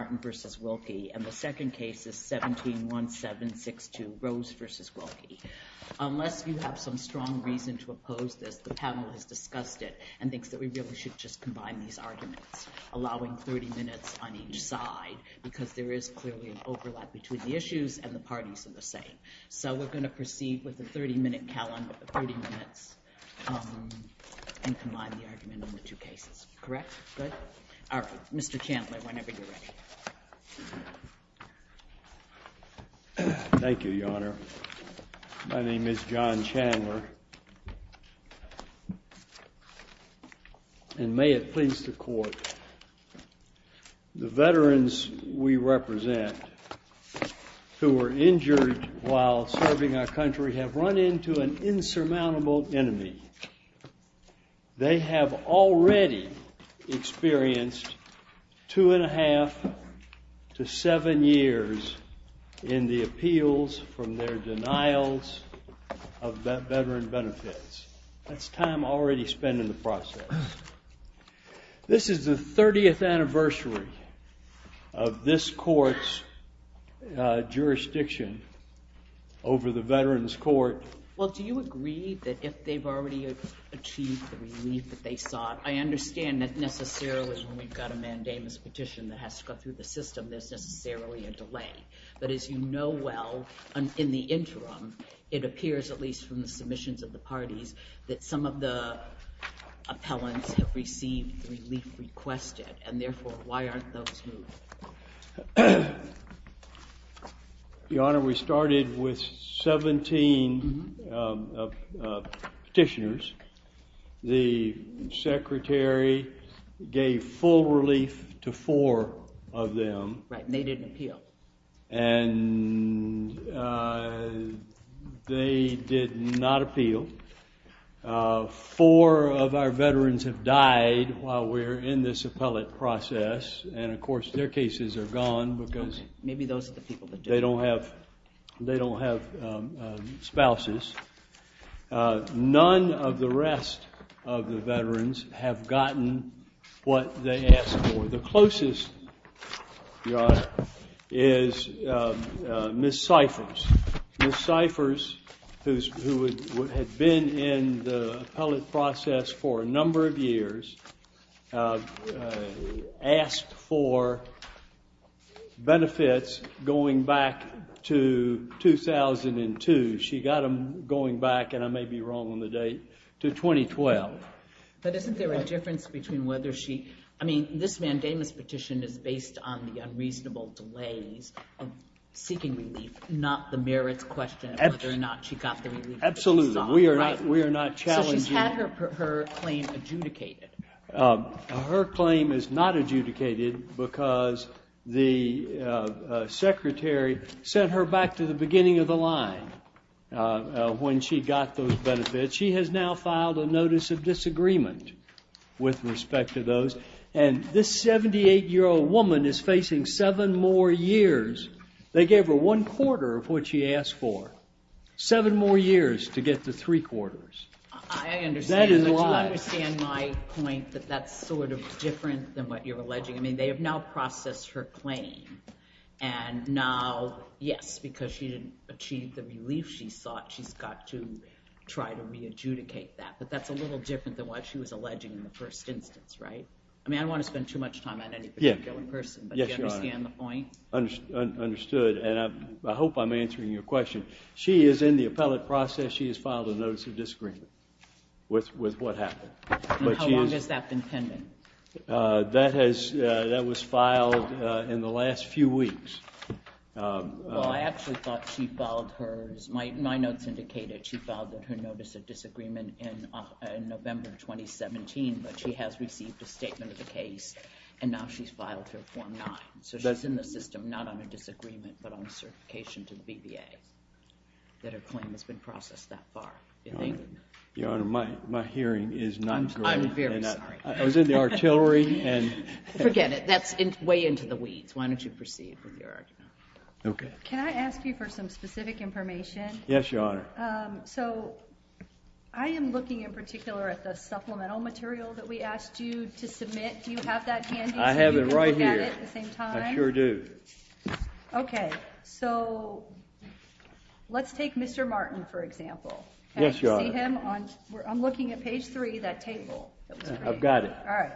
and the second case is 17-1762, Rose v. Wilkie. Unless you have some strong reason to oppose this, the panel has discussed it and thinks that we really should just combine these arguments, allowing 30 minutes on each side because there is clearly an overlap between the issues and the parties in the setting. So we're going to proceed with the 30-minute calendar, 30 minutes, and combine the argument on the two cases. Correct? Good. All right. Mr. Chandler, whenever you're ready. Thank you, Your Honor. My name is John Chandler. And may it please the court, the veterans we represent who were injured while serving our country have run into an insurmountable enemy. They have already experienced two and a half to seven years in the appeals from their denials of veteran benefits. That's time already spent in the process. This is the 30th anniversary of this court's jurisdiction over the Veterans Court. Well, do you agree that if they've already achieved the relief that they sought, I understand that necessarily when we've got a mandamus petition that has to go through the system that there's barely a delay. But as you know well, in the interim, it appears, at least from the submissions of the parties, that some of the appellants have received the relief requested. And therefore, why aren't those two? Your Honor, we started with 17 petitioners. The secretary gave full relief to four of them. Right. And they didn't appeal. And they did not appeal. Four of our veterans have died while we're in this appellate process. And of course, their cases are gone because they don't have spouses. None of the rest of the veterans have gotten what they asked for. The closest, Your Honor, is Ms. Cyphers. Ms. Cyphers, who had been in the appellate process for a number of years, asked for benefits going back to 2002. She got them going back, and I may be wrong on the date, to 2012. But isn't there a difference between whether she... I mean, this mandamus petition is based on the unreasonable delay of seeking relief, not the merit question of whether or not she got the relief she sought. Absolutely. We are not challenging... Has her claim adjudicated? Her claim is not adjudicated because the secretary sent her back to the beginning of the line when she got those benefits. She has now filed a notice of disagreement with respect to those. And this 78-year-old woman is facing seven more years. They gave her one quarter of what she asked for. Seven more years to get the three quarters. I understand my point that that's sort of different than what you're alleging. I mean, they have now processed her claim. And now, yes, because she didn't achieve the relief she sought, she's got to try to re-adjudicate that. But that's a little different than what she was alleging in the first instance, right? I mean, I don't want to spend too much time on any particular person. Yes, Your Honor. Do you understand the point? Understood. And I hope I'm answering your question. She is in the appellate process. Because she has filed a notice of disagreement with what happened. And how long has that been pending? That was filed in the last few weeks. Well, I actually thought she filed hers. My notes indicate that she filed her notice of disagreement in November 2017, but she has received a statement of the case. And now she's filed her form 9. So she's in the system, not on a disagreement, but on a certification to the BBA. That her claim has been processed that far. Your Honor, my hearing is not good. I'm very sorry. I was in the artillery. Forget it. That's way into the weeds. Why don't you proceed from your argument. Okay. Can I ask you for some specific information? Yes, Your Honor. So I am looking in particular at the supplemental material that we asked you to submit. Do you have that handy? I have it right here. Can you look at it at the same time? I sure do. Okay. So let's take Mr. Martin, for example. Yes, Your Honor. I'm looking at page 3 of that table. I've got it. All right.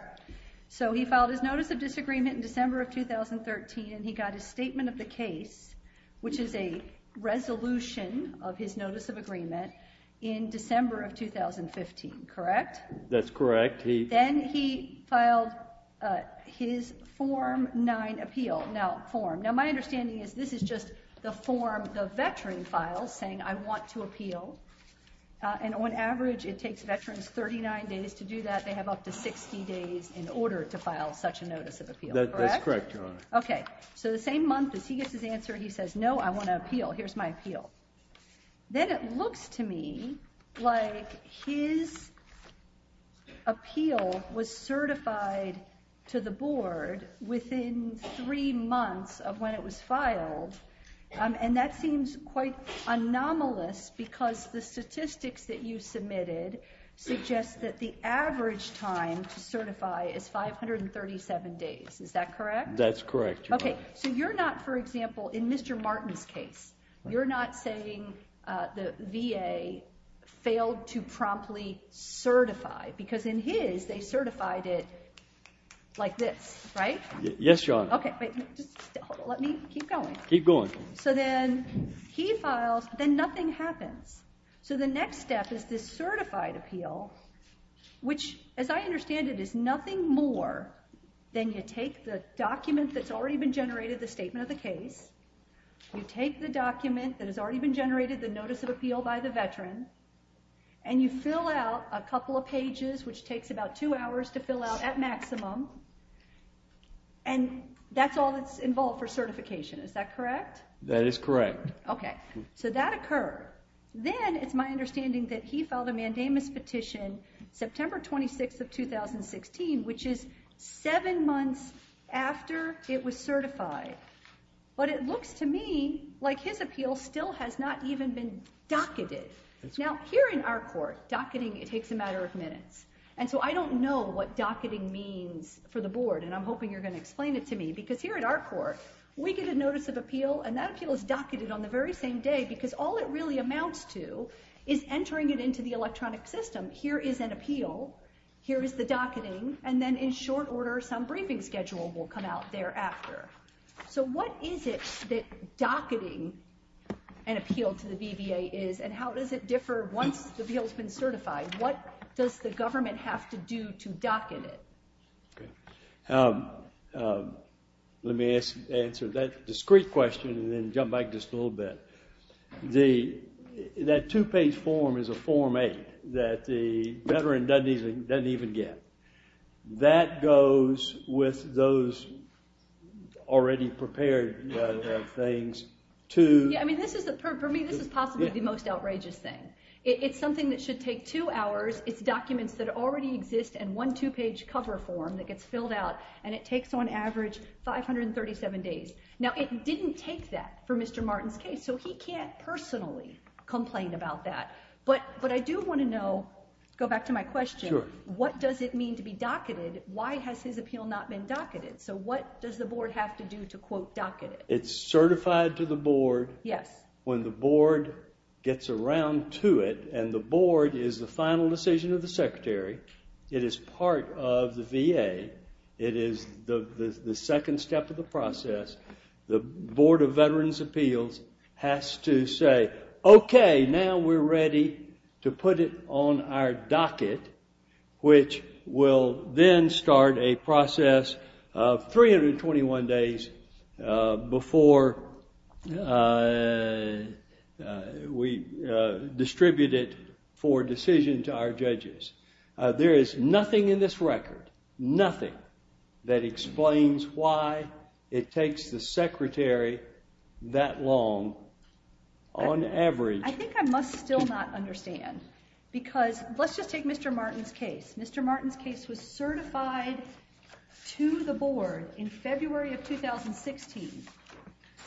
So he filed his notice of disagreement in December of 2013, and he got his statement of the case, which is a resolution of his notice of agreement, in December of 2015, correct? That's correct. Then he filed his form 9 appeal. Now, my understanding is this is just the form the veteran filed saying, I want to appeal. And on average, it takes veterans 39 days to do that. They have up to 60 days in order to file such a notice of appeal. That's correct, Your Honor. Okay. So the same month, as he gets his answer, he says, No, I want to appeal. Here's my appeal. Then it looks to me like his appeal was certified to the board within three months of when it was filed, and that seems quite anomalous because the statistics that you submitted suggest that the average time to certify is 537 days. Is that correct? That's correct, Your Honor. Okay. So you're not, for example, in Mr. Martin's case, you're not saying the VA failed to promptly certify because in his, they certified it like this, right? Yes, Your Honor. Okay. Let me keep going. Keep going. So then he files, then nothing happens. So the next step is the certified appeal, which, as I understand it, is nothing more than you take the documents that's already been generated, the statement of the case, you take the document that has already been generated, the notice of appeal by the veteran, and you fill out a couple of pages, which takes about two hours to fill out, at maximum, and that's all that's involved for certification. Is that correct? That is correct. Okay. So that occurred. Then it's my understanding that he filed a mandamus petition September 26th of 2016, which is seven months after it was certified. But it looks to me like his appeal still has not even been docketed. Now, here in our court, docketing, it takes a matter of minutes. And so I don't know what docketing means for the board, and I'm hoping you're going to explain it to me. Because here at our court, we get a notice of appeal, and that appeal is docketed on the very same day because all it really amounts to is entering it into the electronic system. Here is an appeal. Here is the docketing. And then in short order, some briefing schedule will come out thereafter. So what is it that docketing an appeal to the BVA is and how does it differ once the appeal has been certified? What does the government have to do to docket it? Let me answer that discrete question and then jump back just a little bit. That two-page form is a Form A that the veteran doesn't even get. That goes with those already prepared things to... For me, this is possibly the most outrageous thing. It's something that should take two hours. It's documents that already exist in one two-page cover form that gets filled out. And it takes, on average, 537 days. So he can't personally complain about that. But I do want to know, go back to my question, what does it mean to be docketed? Why has his appeal not been docketed? So what does the board have to do to, quote, docket it? It's certified to the board when the board gets around to it. And the board is the final decision of the secretary. It is part of the VA. It is the second step of the process. The Board of Veterans' Appeals has to say, okay, now we're ready to put it on our docket, which will then start a process of 321 days before we distribute it for decision to our judges. There is nothing in this record, nothing, that explains why it takes the secretary that long, on average. I think I must still not understand. Because let's just take Mr. Martin's case. Mr. Martin's case was certified to the board in February of 2016.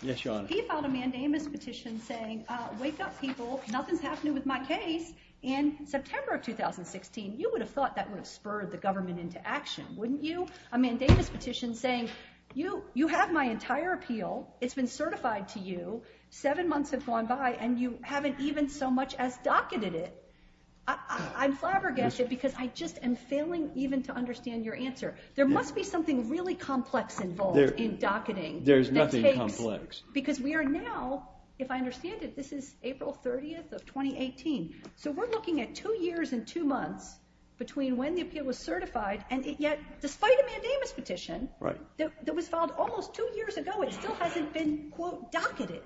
Yes, Your Honor. He filed a mandamus petition saying, wake up, people, nothing's happening with my case in September of 2016. You would have thought that would have spurred the government into action, wouldn't you? A mandamus petition saying, you have my entire appeal, it's been certified to you, seven months have gone by, and you haven't even so much as docketed it. I'm flabbergasted because I just am failing even to understand your answer. There must be something really complex involved in docketing. There's nothing complex. Because we are now, if I understand it, this is April 30th of 2018. So we're looking at two years and two months between when the appeal was certified, and yet, despite a mandamus petition that was filed almost two years ago, it still hasn't been, quote, docketed.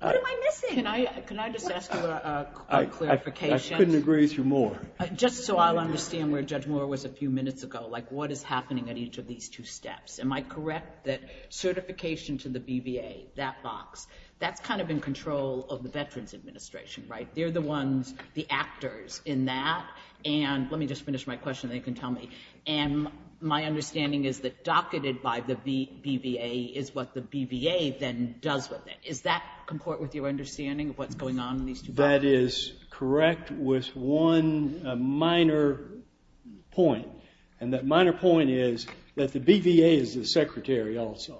What am I missing? Can I just ask you a clarification? I couldn't agree with you more. Just so I'll understand where Judge Moore was a few minutes ago. Like, what is happening at each of these two steps? Am I correct that certification to the BVA, that box, that's kind of in control of the Veterans Administration, right? They're the ones, the actors in that. And let me just finish my question, then you can tell me. And my understanding is that docketed by the BVA is what the BVA then does with it. Does that comport with your understanding of what's going on in these two steps? That is correct with one minor point. And that minor point is that the BVA is the secretary also.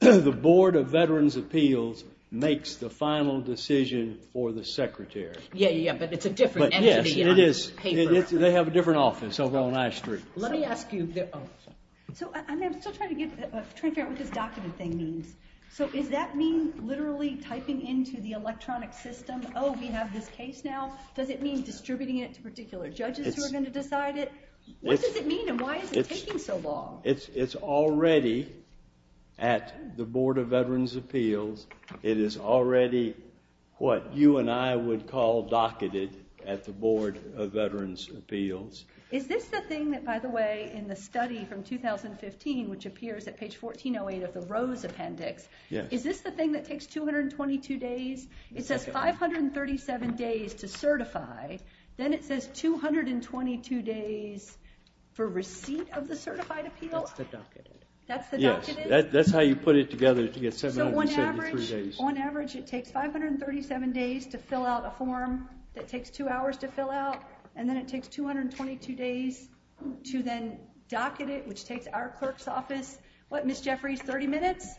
The Board of Veterans' Appeals makes the final decision for the secretary. Yeah, yeah, but it's a different entity. Yes, it is. They have a different office. I'll go on I-Street. Let me ask you, and I'm still trying to get a transparency of what this docketed thing means. So does that mean literally typing into the electronic system, oh, we have this case now? Does it mean distributing it to particular judges who are going to decide it? What does it mean and why is it taking so long? It's already at the Board of Veterans' Appeals. It is already what you and I would call docketed at the Board of Veterans' Appeals. Is this the thing that, by the way, in the study from 2015, which appears at page 1408 of the Rose Appendix, is this the thing that takes 222 days? It says 537 days to certify. Then it says 222 days for receipt of the certified appeal? That's the docketed. That's the docketed? Yes, that's how you put it together. So on average, it takes 537 days to fill out a form, it takes two hours to fill out, and then it takes 222 days to then docket it, which takes our clerk's office, what, Ms. Jeffries, 30 minutes?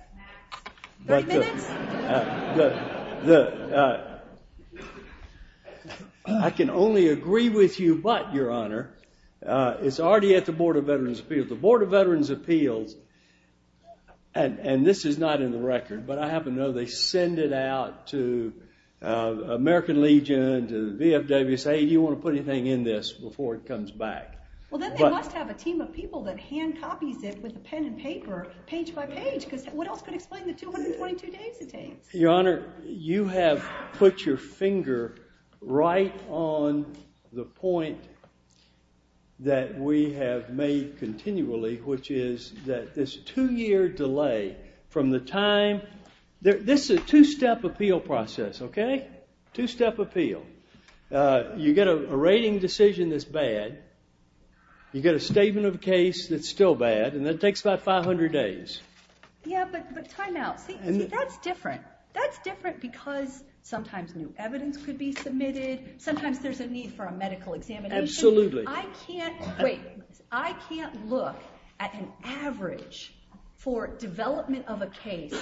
30 minutes? I can only agree with you, but, Your Honor, it's already at the Board of Veterans' Appeals. And this is not in the record, but I happen to know they send it out to American Legion and to the VFW and say, hey, do you want to put anything in this before it comes back? Well, then they must have a team of people that hand copies it with a pen and paper, page by page, because what else could explain the 222 days it takes? Your Honor, you have put your finger right on the point that we have made continually, which is that this two-year delay from the time – this is a two-step appeal process, okay? Two-step appeal. You get a rating decision that's bad, you get a statement of case that's still bad, and then it takes about 500 days. Yeah, but try now. That's different. That's different because sometimes new evidence should be submitted, sometimes there's a need for a medical examination. Absolutely. I can't – wait. I can't look at an average for development of a case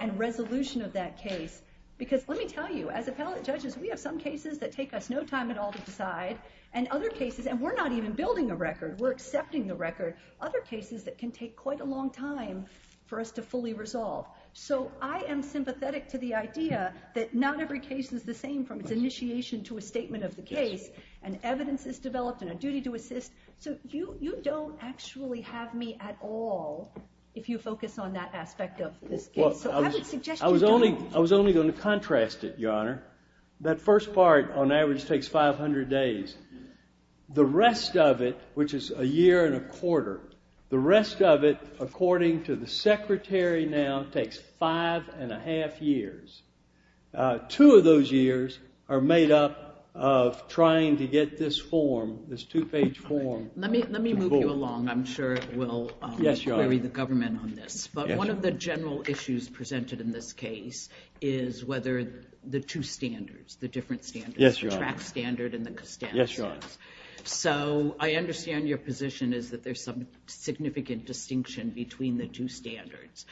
and resolution of that case, because let me tell you, as appellate judges, we have some cases that take us no time at all to decide, and other cases – and we're not even building a record, we're accepting the record – other cases that can take quite a long time for us to fully resolve. So I am sympathetic to the idea that not every case is the same from its initiation to a statement of the case, and evidence is developed and a duty to assist. So you don't actually have me at all if you focus on that aspect of this case. Well, I was only going to contrast it, Your Honor. That first part, on average, takes 500 days. The rest of it, which is a year and a quarter, the rest of it, according to the Secretary now, takes five and a half years. Two of those years are made up of trying to get this form, this two-page form – Let me move you along. I'm sure it will – Yes, Your Honor. – carry the government on this. But one of the general issues presented in this case is whether the two standards, the different standards – Yes, Your Honor. – the TRAC standard and the NIS standard. Yes, Your Honor. So I understand your position is that there's some significant distinction between the two standards.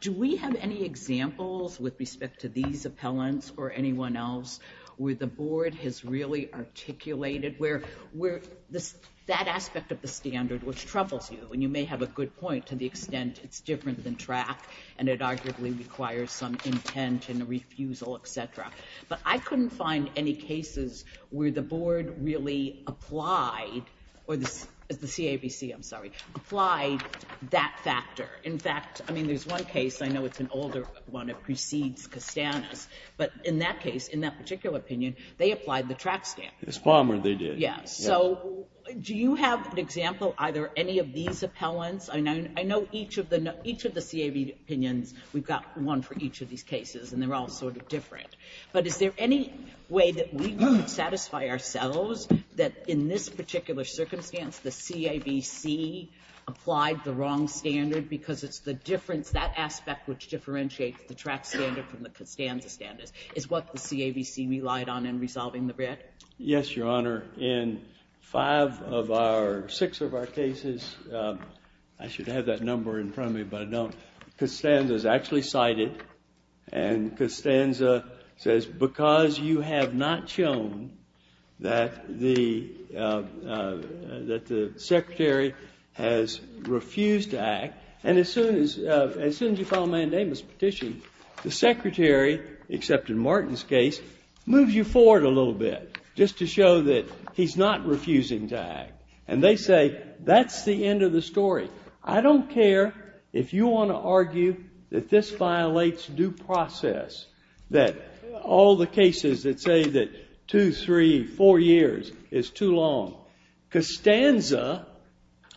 Do we have any examples with respect to these appellants or anyone else where the board has really articulated where that aspect of the standard was troublesome? And you may have a good point to the extent it's different than TRAC and it arguably requires some intent and refusal, et cetera. But I couldn't find any cases where the board really applied – or the CABC, I'm sorry – applied that factor. In fact, I mean, there's one case. I know it's an older one. It precedes Cassandra's. But in that case, in that particular opinion, they applied the TRAC standard. It's Palmer they did. Yes. So do you have an example, either any of these appellants? I know each of the – each of the CAB opinions, we've got one for each of these cases, and they're all sort of different. But is there any way that we can satisfy ourselves that in this particular circumstance, the CABC applied the wrong standard because it's the different – that aspect which differentiates the TRAC standard from the Cassandra standard? Is what the CABC relied on in resolving the record? Yes, Your Honor. In five of our – six of our cases – I should have that number in front of me, but I don't – Cassandra's actually cited. And Cassandra says, because you have not shown that the – that the secretary has refused to act, and as soon as – as soon as you file a mandamus petition, the secretary, except in Martin's case, moves you forward a little bit just to show that he's not refusing to act. And they say, that's the end of the story. I don't care if you want to argue that this violates due process, that all the cases that say that two, three, four years is too long. Cassandra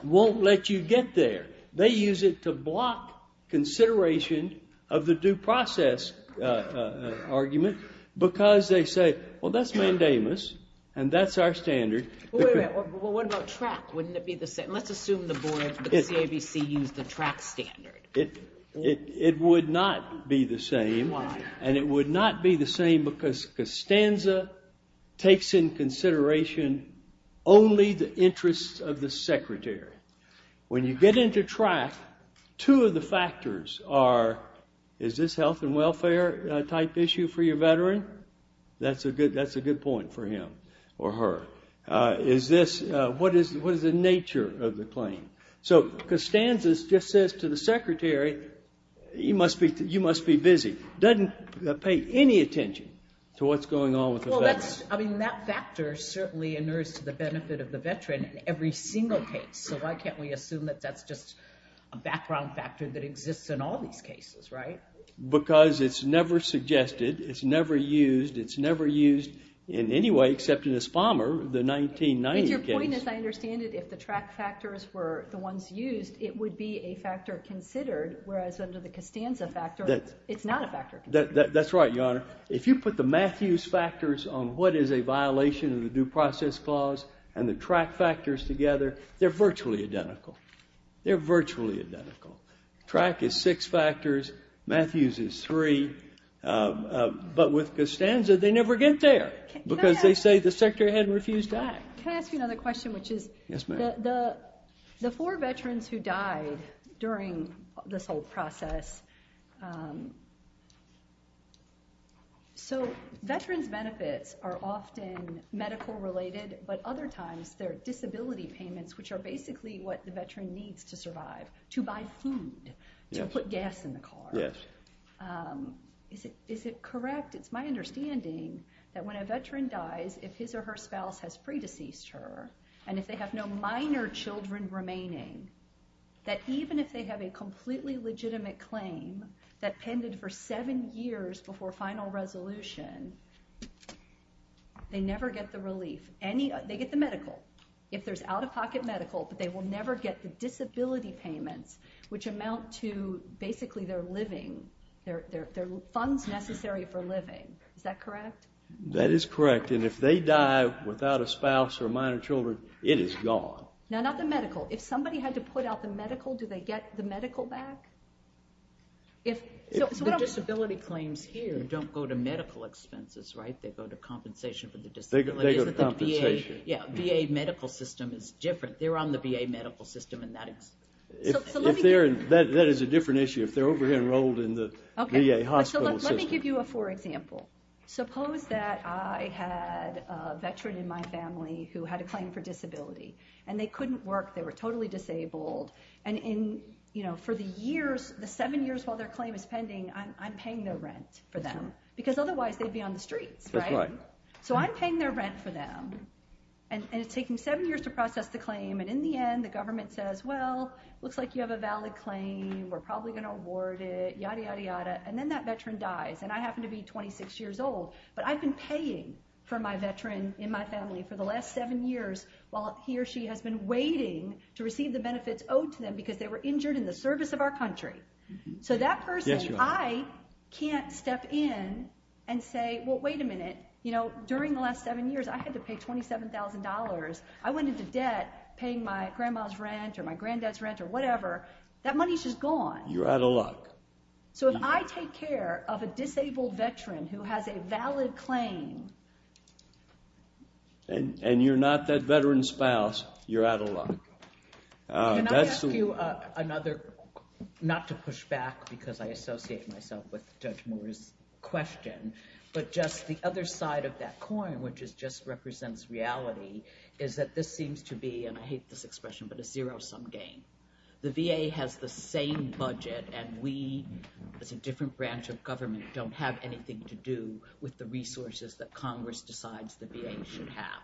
won't let you get there. They use it to block consideration of the due process argument because they say, well, that's mandamus, and that's our standard. Wait a minute. What about TRAC? Wouldn't it be the same? Let's assume the board – the CABC used the TRAC standard. It would not be the same. And it would not be the same because Costanza takes in consideration only the interests of the secretary. When you get into TRAC, two of the factors are, is this health and welfare-type issue for your veteran? That's a good point for him or her. Is this – what is the nature of the claim? So Costanza just says to the secretary, you must be busy. Doesn't pay any attention to what's going on with the veterans. Well, I mean, that factor certainly inerts the benefit of the veteran in every single case. So why can't we assume that that's just a background factor that exists in all these cases, right? Because it's never suggested. It's never used. It's never used in any way, except in the Spalmer, the 1990 case. If your point is I understand it, if the TRAC factors were the ones used, it would be a factor considered, whereas under the Costanza factor, it's not a factor. That's right, Your Honor. If you put the Matthews factors on what is a violation of the due process clause and the TRAC factors together, they're virtually identical. They're virtually identical. TRAC is six factors, Matthews is three, but with Costanza, they never get there, because they say the secretary hadn't refused to act. Can I ask you another question, which is, the four veterans who died during this whole process, so veterans' benefits are often medical-related, but other times they're disability payments, which are basically what the veteran needs to survive, to buy food, to put gas in the car. Yes. Is it correct, it's my understanding, that when a veteran dies, if his or her spouse has pre-deceased her, and if they have no minor children remaining, that even if they have a completely legitimate claim, that tended for seven years before final resolution, they never get the relief. They get the medical. If there's out-of-pocket medical, they will never get the disability payments, which amount to basically their living, their funds necessary for living. Is that correct? That is correct, and if they die without a spouse or minor children, it is gone. Now, not the medical. If somebody had to put out the medical, do they get the medical back? The disability claims here don't go to medical expenses, right? They go to compensation for the disability. They go to compensation. The VA medical system is different. They're on the VA medical system. That is a different issue. If they're over-enrolled in the VA hospital system. Let me give you a poor example. Suppose that I had a veteran in my family who had a claim for disability, and they couldn't work, they were totally disabled, and for the seven years while their claim is pending, I'm paying no rent for them, because otherwise they'd be on the street, right? So I'm paying their rent for them, and it's taking seven years to process the claim, and in the end, the government says, well, it looks like you have a valid claim, we're probably going to award it, yada, yada, yada, and then that veteran dies, and I happen to be 26 years old, but I've been paying for my veteran in my family for the last seven years while he or she has been waiting to receive the benefits owed to them because they were injured in the service of our country. So that person, I can't step in and say, well, wait a minute, during the last seven years I had to pay $27,000, I went into debt paying my grandma's rent or my granddad's rent or whatever, that money's just gone. You're out of luck. So if I take care of a disabled veteran who has a valid claim, and you're not that veteran's spouse, you're out of luck. Can I ask you another, not to push back because I associate myself with Judge Moore's question, but just the other side of that coin, which just represents reality, is that this seems to be, and I hate this expression, but a zero-sum game. The VA has the same budget and we, as a different branch of government, don't have anything to do with the resources that Congress decides the VA should have.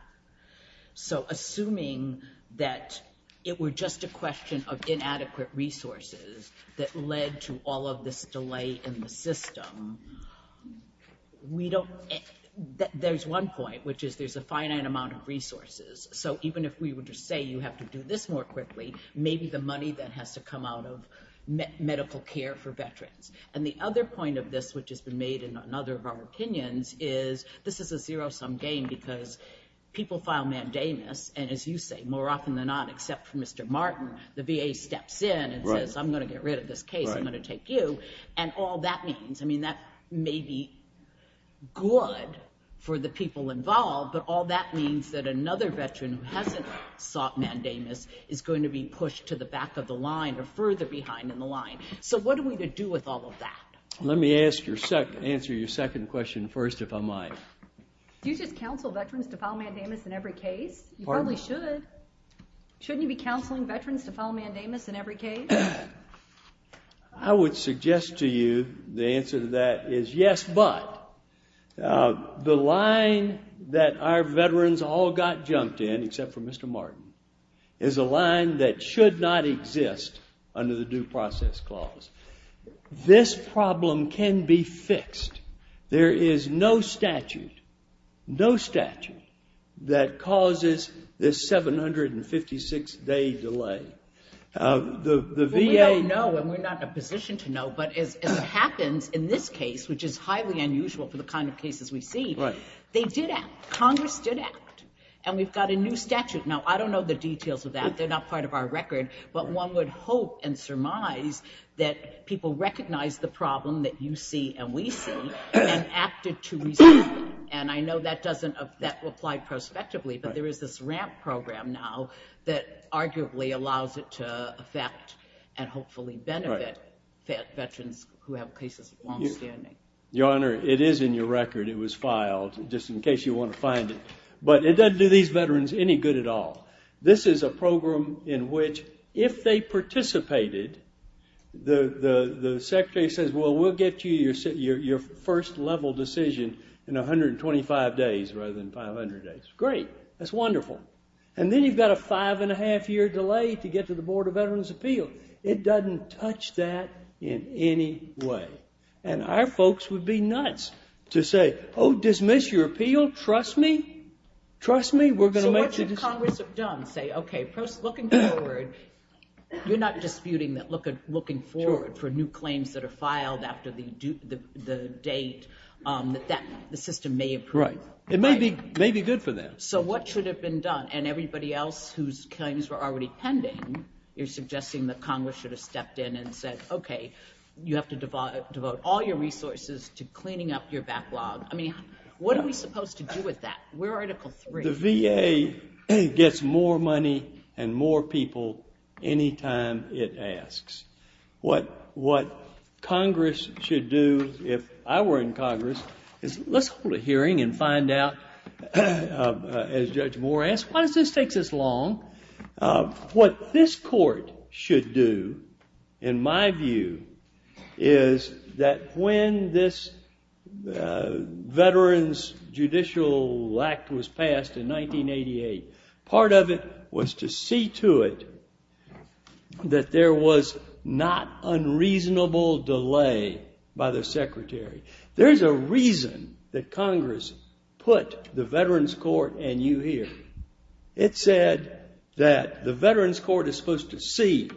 So assuming that it were just a question of inadequate resources that led to all of this delay in the system, we don't, there's one point, which is there's a finite amount of resources, so even if we were to say you have to do this more quickly, maybe the money that has to come out of medical care for veterans. And the other point of this, which has been made in another of our opinions, is this is a zero-sum game because people file mandamus and as you say, more often than not, except for Mr. Martin, the VA steps in and says, I'm going to get rid of this case, I'm going to take you, and all that means, I mean that may be good for the people involved, but all that means that another veteran who hasn't sought mandamus is going to be pushed to the back of the line or further behind in the line. So what are we to do with all of that? Let me answer your second question first, if I might. Do you just counsel veterans to file mandamus in every case? You probably should. Shouldn't you be counseling veterans to file mandamus in every case? I would suggest to you the answer to that is yes, but the line that our veterans all got jumped in, except for Mr. Martin, is a line that should not exist under the due process clause. This problem can be fixed. There is no statute, no statute, that causes this 756 day delay. The VA knows, and we're not in a position to know, but if it happens in this case, which is highly unusual for the kind of cases we see, they did act, Congress did act, and we've got a new statute. Now, I don't know the details of that, they're not part of our record, but one would hope and surmise that people recognize the problem that you see and we see and acted to resolve it. And I know that doesn't apply prospectively, but there is this RAP program now that arguably allows it to affect and hopefully benefit veterans who have cases longstanding. Your Honor, it is in your record, it was filed, just in case you want to find it, but it doesn't do these veterans any good at all. This is a program in which if they participated, the Secretary says, well, we'll get you your first level decision in 125 days rather than 500 days. Great, that's wonderful. And then you've got a five and a half year delay to get to the Board of Veterans Appeals. It doesn't touch that in any way. And our folks would be nuts to say, oh, dismiss your appeal? Trust me, trust me, So what should Congress have done? Say, okay, first, looking forward, you're not disputing that looking forward for new claims that are filed after the date that the system may approve. Right. It may be good for that. So what should have been done? And everybody else whose claims were already pending is suggesting that Congress should have stepped in and said, okay, you have to devote all your resources to cleaning up your backlog. I mean, what are we supposed to do with that? The VA gets more money and more people any time it asks. What Congress should do if I were in Congress is let's hold a hearing and find out as Judge Moore asked, why does this take this long? What this court should do, in my view, is that when this veterans judicial act was passed in 1988, part of it was to see to it that there was not unreasonable delay by the Secretary. There's a reason that Congress put the veterans court and you here. It said that the veterans court is supposed to see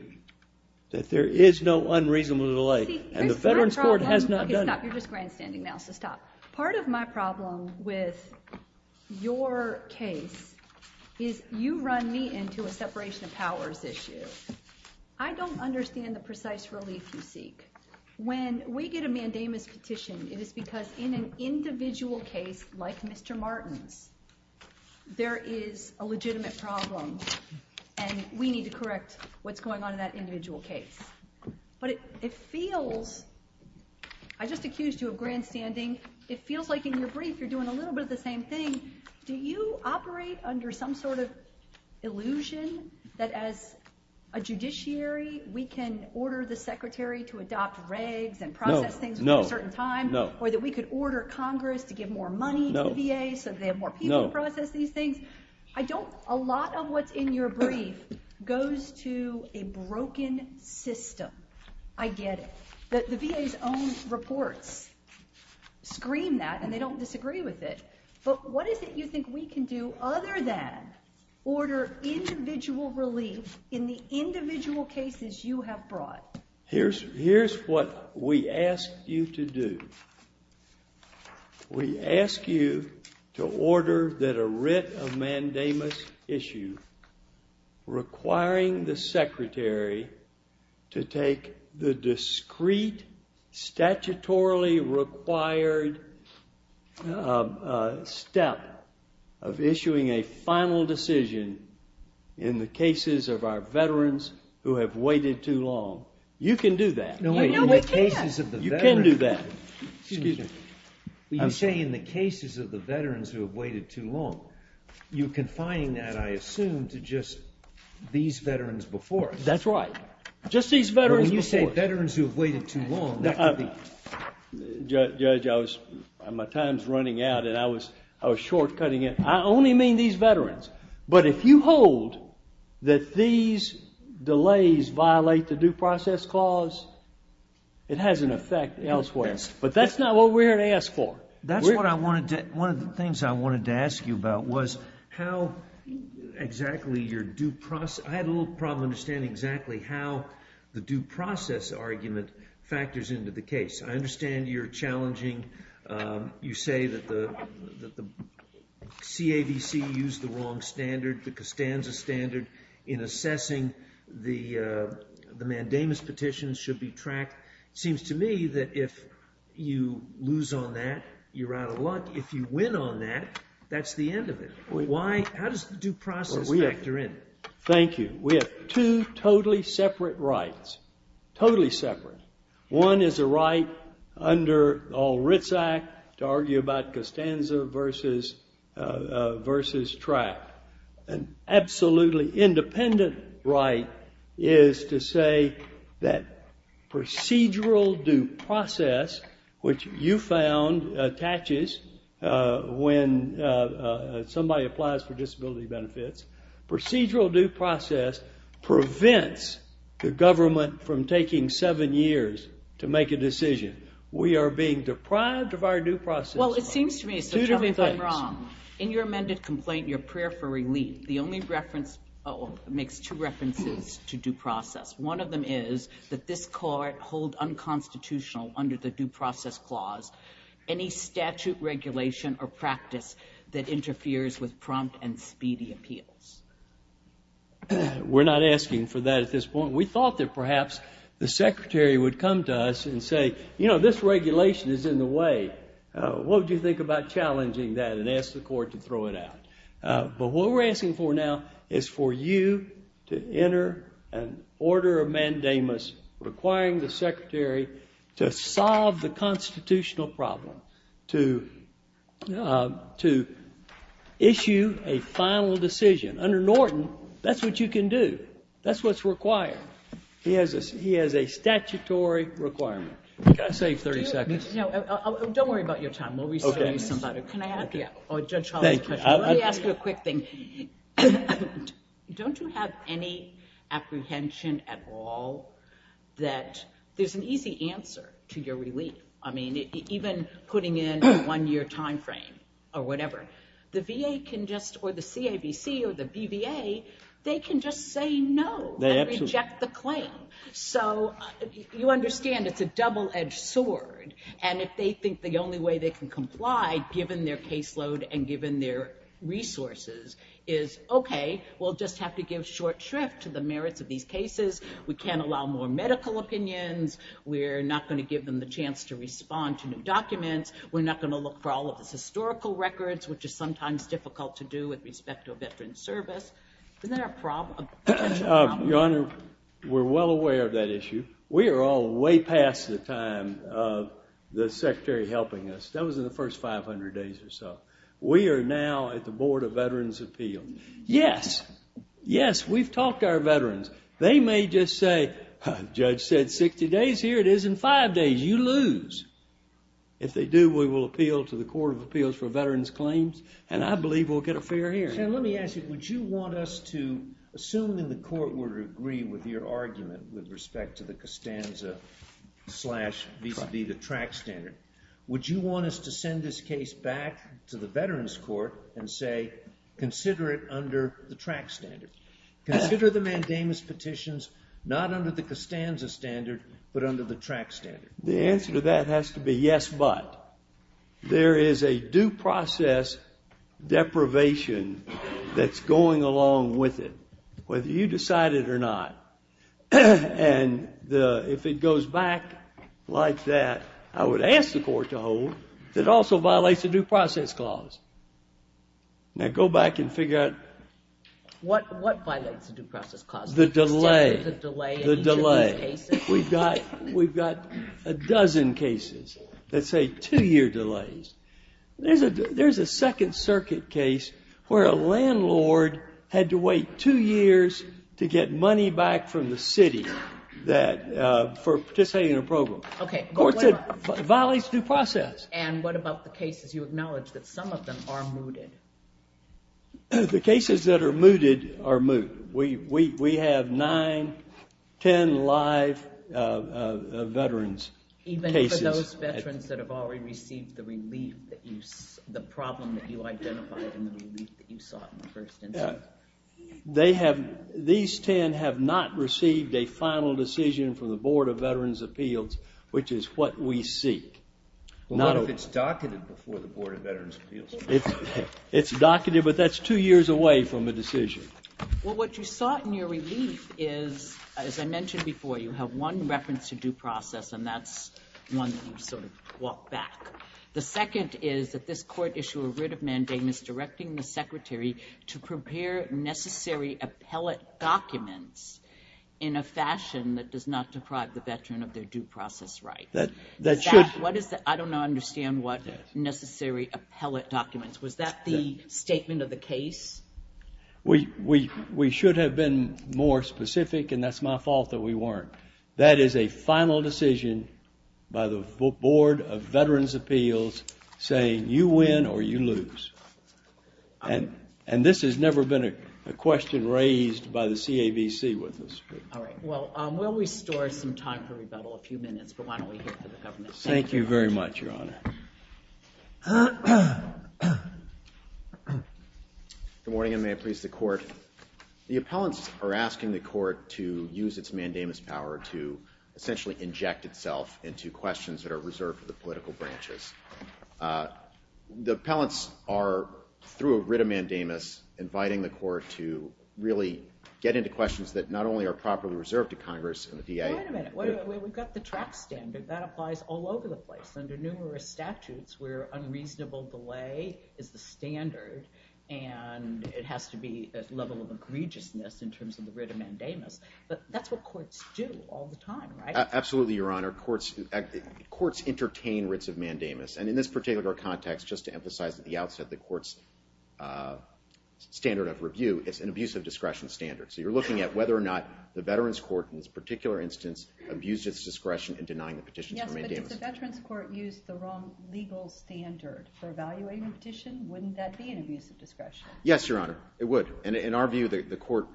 that there is no unreasonable delay, and the veterans court has not done it. You're just grandstanding now, so stop. Part of my problem with your case is you run me into a separation of powers issue. I don't understand the precise relief you seek. When we get a mandamus petition, it is because in an individual case like Mr. Martin's, there is a legitimate problem, and we need to correct what's going on in that individual case. But it feels I just accused you of grandstanding. It feels like in your brief you're doing a little bit of the same thing. Do you operate under some sort of illusion that as a judiciary we can order the Secretary to adopt regs and process things at a certain time, or that we could order Congress to give more money to VA so they have more people to process these things? A lot of what's in your brief goes to a broken system. I get it. The VA's own reports scream that, and they don't disagree with it. But what is it you think we can do other than order individual relief in the individual cases you have brought? Here's what we ask you to do. We ask you to order that a writ of mandamus issue requiring the Secretary to take the discrete, statutorily required step of issuing a final decision in the cases of our veterans who have waited too long. You can do that. You can do that. I'm saying in the cases of the veterans who have waited too long you confine that I assume to just these veterans before us. That's right. Just these veterans before us. When you say veterans who have waited too long, that could be Judge, I was my time's running out, and I was short-cutting it. I only mean these veterans. But if you hold that these delays violate the due process clause, it has an effect elsewhere. But that's not what we're here to ask for. That's what I wanted to, one of the things I wanted to ask you about was how exactly your due process I have a little problem understanding exactly how the due process argument factors into the case. I understand you're challenging you say that the CAVC used the wrong standard, the Costanza standard in assessing the mandamus petitions should be tracked. It seems to me that if you lose on that, you're out of luck. If you win on that, that's the end of it. How does the due process factor in? Thank you. We have two totally separate rights, totally separate. One is a right under Ritz Act to argue about Costanza versus versus trial. An absolutely independent right is to say that procedural due process, which you found attaches when somebody applies for disability benefits procedural due process prevents the government from taking seven years to make a decision. We are being deprived of our due process. It seems to me in your amended complaint, your prayer for relief, the only reference makes two references to due process. One of them is that this court holds unconstitutional under the due process clause any statute regulation or practice that interferes with prompt and speedy appeals. We're not asking for that at this point. We thought that perhaps the secretary would come to us and say, you know, this regulation is in the way. What do you think about challenging that and ask the court to throw it out? What we're asking for now is for you to enter an order of mandamus requiring the secretary to solve the constitutional problem. To issue a final decision. Under Norton, that's what you can do. That's what's required. He has a statutory requirement. Can I save 30 seconds? Don't worry about your time. Let me ask you a quick thing. Don't you have any apprehension at all that there's an easy answer to your relief? Even putting in a one-year time frame or whatever. The VA can just, or the CABC or the BVA, they can just say no and reject the claim. You understand it's a double-edged sword and if they think the only way they can comply given their caseload and given their resources is, okay, we'll just have to give short shrift to the merits of these cases. We can't allow more medical opinions. We're not going to give them the chance to respond to documents. We're not going to look for all of the historical records, which is sometimes difficult to do with respect to a veteran's service. Isn't that a problem? Your Honor, we're well aware of that issue. We are all way past the time of the secretary helping us. That was in the first 500 days or so. We are now at the Board of Veterans Appeals. Yes. Yes, we've talked to our veterans. They may just say, the judge said 60 days. Here it is in five days. You lose. If they do, we will appeal to the Court of Appeals for Veterans Claims and I believe we'll get a fair hearing. Let me ask you, would you want us to assume that the court would agree with your argument with respect to the Costanza slash the track standard. Would you want us to send this case back to the Veterans Court and say consider it under the track standard. Consider the mandamus petitions not under the Costanza standard, but under the track standard. The answer to that has to be yes, but. There is a due process deprivation that's going along with it, whether you decide it or not. And if it goes back like that, I would ask the court to hold. It also violates the due process clause. Now go back and figure out. What violates the due process clause? The delay. We've got a dozen cases that say two year delays. There's a second circuit case where a landlord had to wait two years to get money back from the city for participating in a program. It violates due process. And what about the cases you acknowledge that some of them are mooted? The cases that are mooted are moot. We have nine, ten live Veterans cases. Even for those Veterans that have already received the relief, the problem that you identified in the relief that you saw in the first instance. These ten have not received a final decision from the Board of Veterans' Appeals, which is what we see. What if it's docketed before the Board of Veterans' Appeals? It's docketed, but that's two years away from a decision. Well, what you saw in your relief is, as I mentioned before, you have one reference to due process and that's one that you walked back. The second is that this court issued a writ of mandamus directing the Secretary to prepare necessary appellate documents in a fashion that does not deprive the Veteran of their due process right. I don't understand what necessary appellate documents. Was that the statement of the case? We should have been more specific, and that's my fault that we weren't. That is a final decision by the Board of Veterans' Appeals saying you win or you lose. And this has never been a question raised by the CAVC in this case. Well, we'll restore some time for rebuttal. Thank you very much, Your Honor. Good morning, and may it please the Court. The appellants are asking the Court to use its mandamus power to essentially inject itself into questions that are reserved for the political branches. The appellants are, through a writ of mandamus, inviting the Court to really get into questions that not only are properly reserved to Congress and the VA... Wait a minute. We've got the track standard. That applies all over the place under numerous statutes where unreasonable delay is the standard and it has to be a level of egregiousness in terms of the writ of mandamus. But that's what courts do all the time, right? Absolutely, Your Honor. Courts entertain writs of mandamus, and in this particular context, just to emphasize at the outset, the Court's standard of review is an abuse of discretion standard. So you're looking at whether or not the Veterans Court, in this particular instance, abused its discretion in denying the petitions for mandamus. Yes, but if the Veterans Court used the wrong legal standard for evaluating a petition, wouldn't that be an abuse of discretion? Yes, Your Honor, it would. In our view, the Court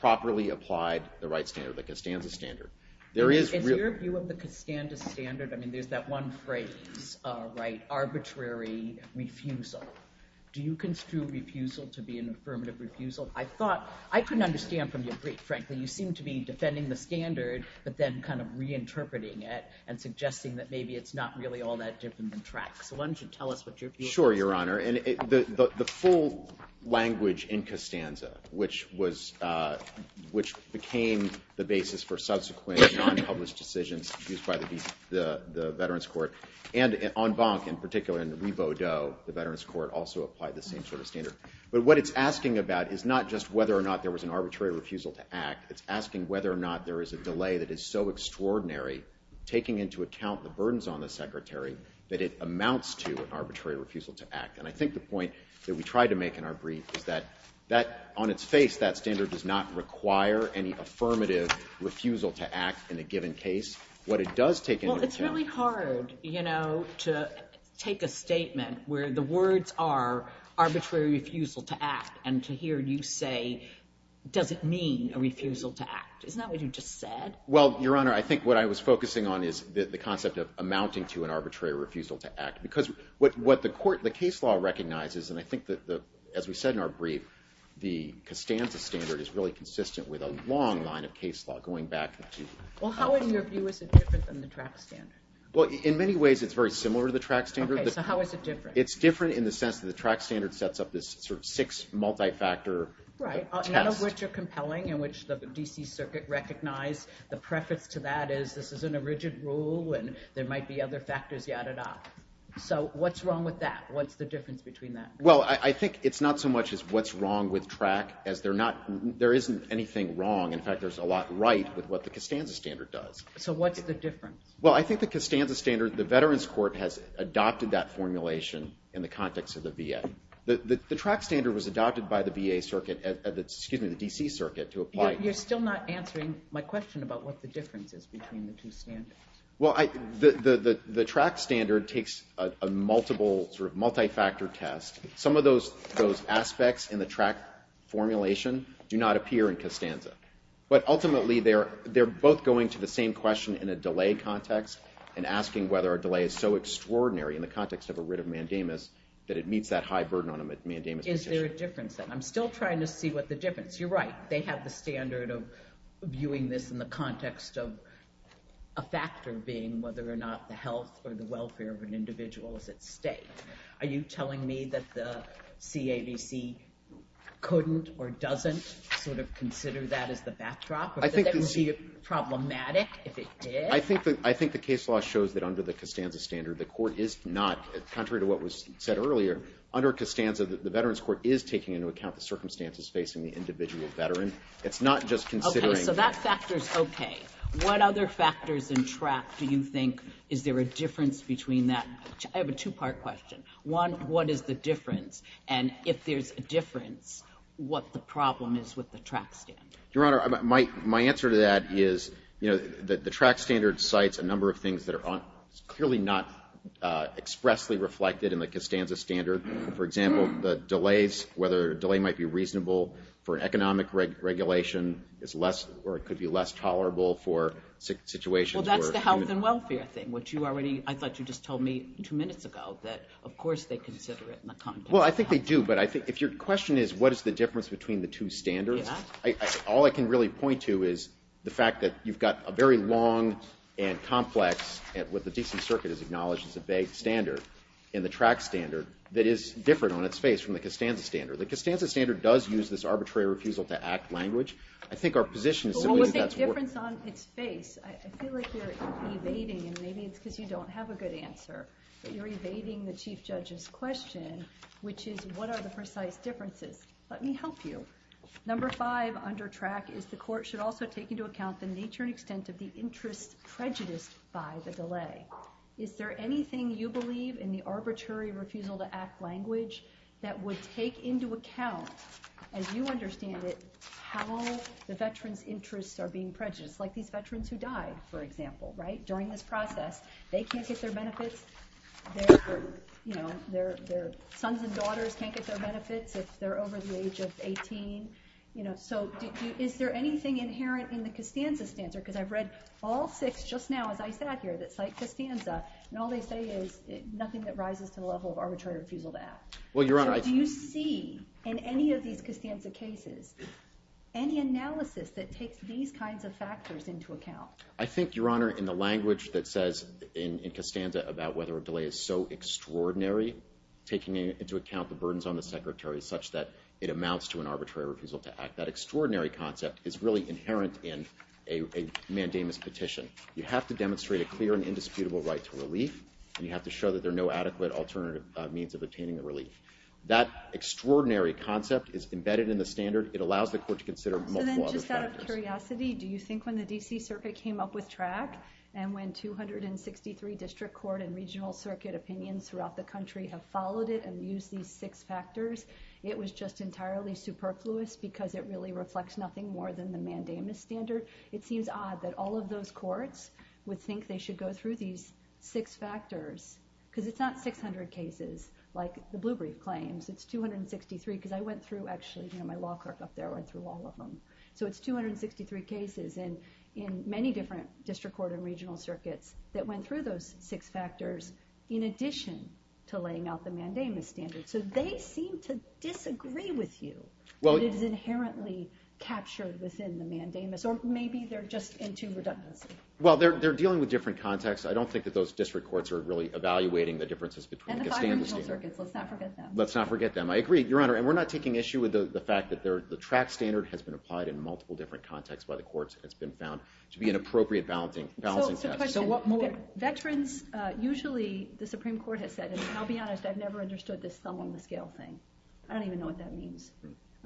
properly applied the right standard, the Kastanda standard. There is... In your view of the Kastanda standard, I mean, there's that one phrase, right? Arbitrary refusal. Do you construe refusal to be an affirmative refusal? I thought... I couldn't understand from your brief, frankly. You seem to be defending the standard, but then kind of reinterpreting it and suggesting that maybe it's not really all that different in track. So why don't you tell us what your view is? Sure, Your Honor. The full language in Kastanda, which was... which became the basis for subsequent non-published decisions used by the Veterans Court, and on Bonk in particular, in the Nebo Doe, the Veterans Court also applied the same sort of standard. But what it's asking about is not just whether or not there was an arbitrary refusal to act. It's asking whether or not there is a delay that is so extraordinary, taking into account the burdens on the Secretary that it amounts to an arbitrary refusal to act. And I think the point that we try to make in our brief is that on its face, that standard does not require any affirmative refusal to act in a given case. What it does take into account... Well, it's really hard, you know, to take a statement where the words are arbitrary refusal to act, and to hear you say does it mean a refusal to act? Isn't that what you just said? Well, Your Honor, I think what I was focusing on is the concept of amounting to an arbitrary refusal to act. Because what the case law recognizes, and I think that, as we said in our brief, the Kastanda standard is really consistent with a long line of case law going back to... Well, how are your cases different from the TRAC standard? Well, in many ways it's very similar to the TRAC standard. Okay, so how is it different? It's different in the sense that the TRAC standard sets up this sort of six multi-factor... Right, none of which are compelling, in which the D.C. Circuit recognized the preface to that is, this isn't a rigid rule, and there might be other factors, yada-da. So, what's wrong with that? What's the difference between that? Well, I think it's not so much as what's wrong with TRAC, as there isn't anything wrong. In fact, there's a lot right with what the Kastanda standard does. So, what's the difference? Well, I think the Kastanda standard, the Veterans Court has adopted that formulation in the context of the VA. The TRAC standard was adopted by the D.C. Circuit to apply... You're still not answering my question about what the difference is between the two standards. Well, the TRAC standard takes a multiple, multi-factor test. Some of those aspects in the TRAC formulation do not appear in Kastanda. But ultimately, they're both going to the same question in a delay context, and asking whether a delay is so extraordinary in the context of a writ of mandamus, that it meets that high burden on a mandamus decision. Is there a difference then? I'm still trying to see what the difference... You're right. They have the standard of viewing this in the context of a factor being whether or not the health or the welfare of an individual is at stake. Are you telling me that the CAVC couldn't or doesn't consider that as the backdrop? Would that be problematic if it did? I think the case law shows that under the Kastanda standard, the court is not... Contrary to what was said earlier, under Kastanda, the Veterans Court is taking into account the circumstances facing the individual veteran. It's not just considering... Okay, so that factor's okay. What other factors in TRAC do you think... Is there a difference between that? I have a two-part question. One, what is the difference? And if there's a difference, what the problem is with the TRAC standard? Your Honor, my answer to that is the TRAC standard cites a number of things that are clearly not expressly reflected in the Kastanda standard. For example, the delays, whether a delay might be reasonable for economic regulation or it could be less tolerable for situations where... Well, that's the health and welfare thing, which you already... I thought you just told me two minutes ago that of course they consider it in a complex... Well, I think they do, but I think... If your question is what is the difference between the two standards, all I can really point to is the fact that you've got a very long and complex, what the D.C. Circuit has acknowledged as a vague standard in the TRAC standard that is different on its face from the Kastanda standard. The Kastanda standard does use this arbitrary refusal-to-act language. I think our position is... Well, what's the difference on its face? I see what you're evading, and maybe it's because you don't have a good answer, but you're evading the Chief Judge's question, which is, what are the precise differences? Let me help you. Number five under TRAC is the court should also take into account the nature and extent of the interest prejudiced by the delay. Is there anything you believe in the arbitrary refusal-to- act language that would take into account, as you understand it, how the veterans' interests are being prejudiced? Like these veterans who died, for example, during this process, they can't get their benefits. Their sons and daughters can't get their benefits if they're over the age of 18. Is there anything inherent in the Kastanda standard? Because I've read all six just now, as I said here, that cite Kastanda, and all they say is nothing that rises to the level of arbitrary refusal-to-act. So do you see in any of these Kastanda cases any analysis that takes these kinds of factors into account? I think, Your Honor, in the language that says in Kastanda about whether a delay is so extraordinary, taking into account the burdens on the Secretary such that it amounts to an arbitrary refusal-to-act. That extraordinary concept is really inherent in a mandamus petition. You have to demonstrate a clear and indisputable right to relief, and you have to show that there are no adequate alternative means of obtaining relief. That extraordinary concept is embedded in the standard. It allows the court to consider multiple other factors. Just out of curiosity, do you think when the D.C. Circuit came up with TRAC, and when 263 district court and regional circuit opinions throughout the country have followed it and used these six factors, it was just entirely superfluous because it really reflects nothing more than the mandamus standard? It seems odd that all of those courts would think they should go through these six factors because it's not 600 cases like the Bloomberg claims. It's 263 because I went through, actually, my law clerk up there went through all of them. It's 263 cases in many different district court and regional circuits that went through those six factors in addition to laying out the mandamus standard. They seem to disagree with you. It is inherently captured within the mandamus or maybe they're just in too redundant. They're dealing with different contexts. I don't think that those district courts are really evaluating the differences between the standard. Let's not forget them. Let's not forget them. I agree, Your Honor, and we're not taking issue with the fact that the track standard has been applied in multiple different contexts by the courts and it's been found to be an appropriate balancing question. Veterans, usually the Supreme Court has said, and I'll be honest, I've never understood this sum on the scale thing. I don't even know what that means.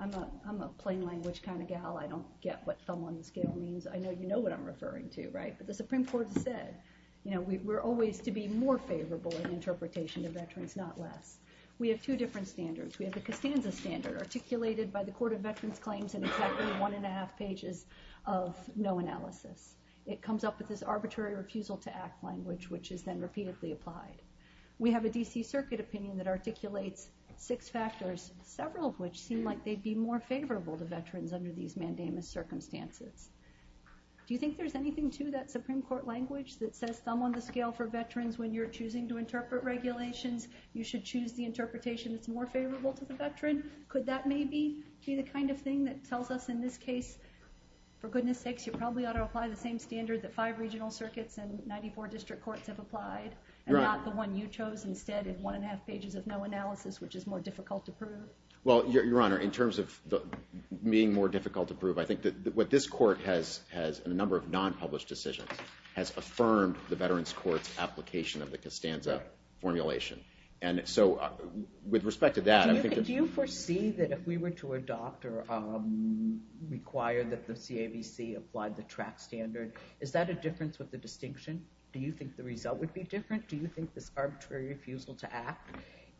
I'm a plain language kind of gal. I don't get what sum on the scale means. I know you know what I'm referring to, but the Supreme Court said we're always to be more favorable in interpretation to veterans, not less. We have two different standards. We have a Cassandra standard articulated by the Court of Veterans Claims and it's actually one and a half pages of no analysis. It comes up with this arbitrary refusal to act language which is then repeatedly applied. We have a D.C. Circuit opinion that articulates six factors, several of which seem like they'd be more favorable to veterans under these mandamus circumstances. Do you think there's anything to that Supreme Court language that says sum on the scale for regulations you should choose the interpretation that's more favorable to the veteran? Could that maybe be the kind of thing that tells us in this case for goodness sakes you probably ought to apply the same standard that five regional circuits and 94 district courts have applied and not the one you chose instead of one and a half pages of no analysis which is more difficult to prove? Well, Your Honor, in terms of being more difficult to prove, I think that what this court has in a number of non-published decisions has affirmed the Veterans Court's Cassandra formulation. And so, with respect to that, Do you foresee that if we were to adopt or require that the CAVC apply the TRAC standard, is that a difference with the distinction? Do you think the result would be different? Do you think this arbitrary refusal to act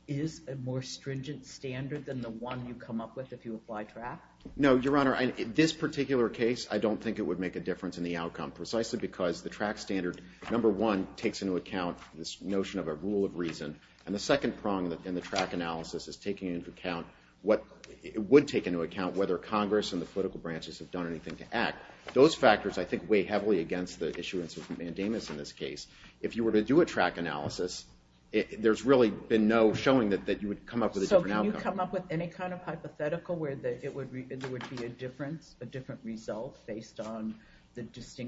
is a more stringent standard than the one you come up with if you apply TRAC? No, Your Honor, in this particular case, I don't think it would make a difference in the outcome precisely because the TRAC standard number one takes into account this notion of a rule of reason and the second prong in the TRAC analysis is taking into account what it would take into account whether Congress and the political branches have done anything to act. Those factors, I think, weigh heavily against the issuance of mandamus in this case. If you were to do a TRAC analysis, there's really been no showing that you would come up with a different outcome. So can you come up with any kind of hypothetical where there would be a different result based on the I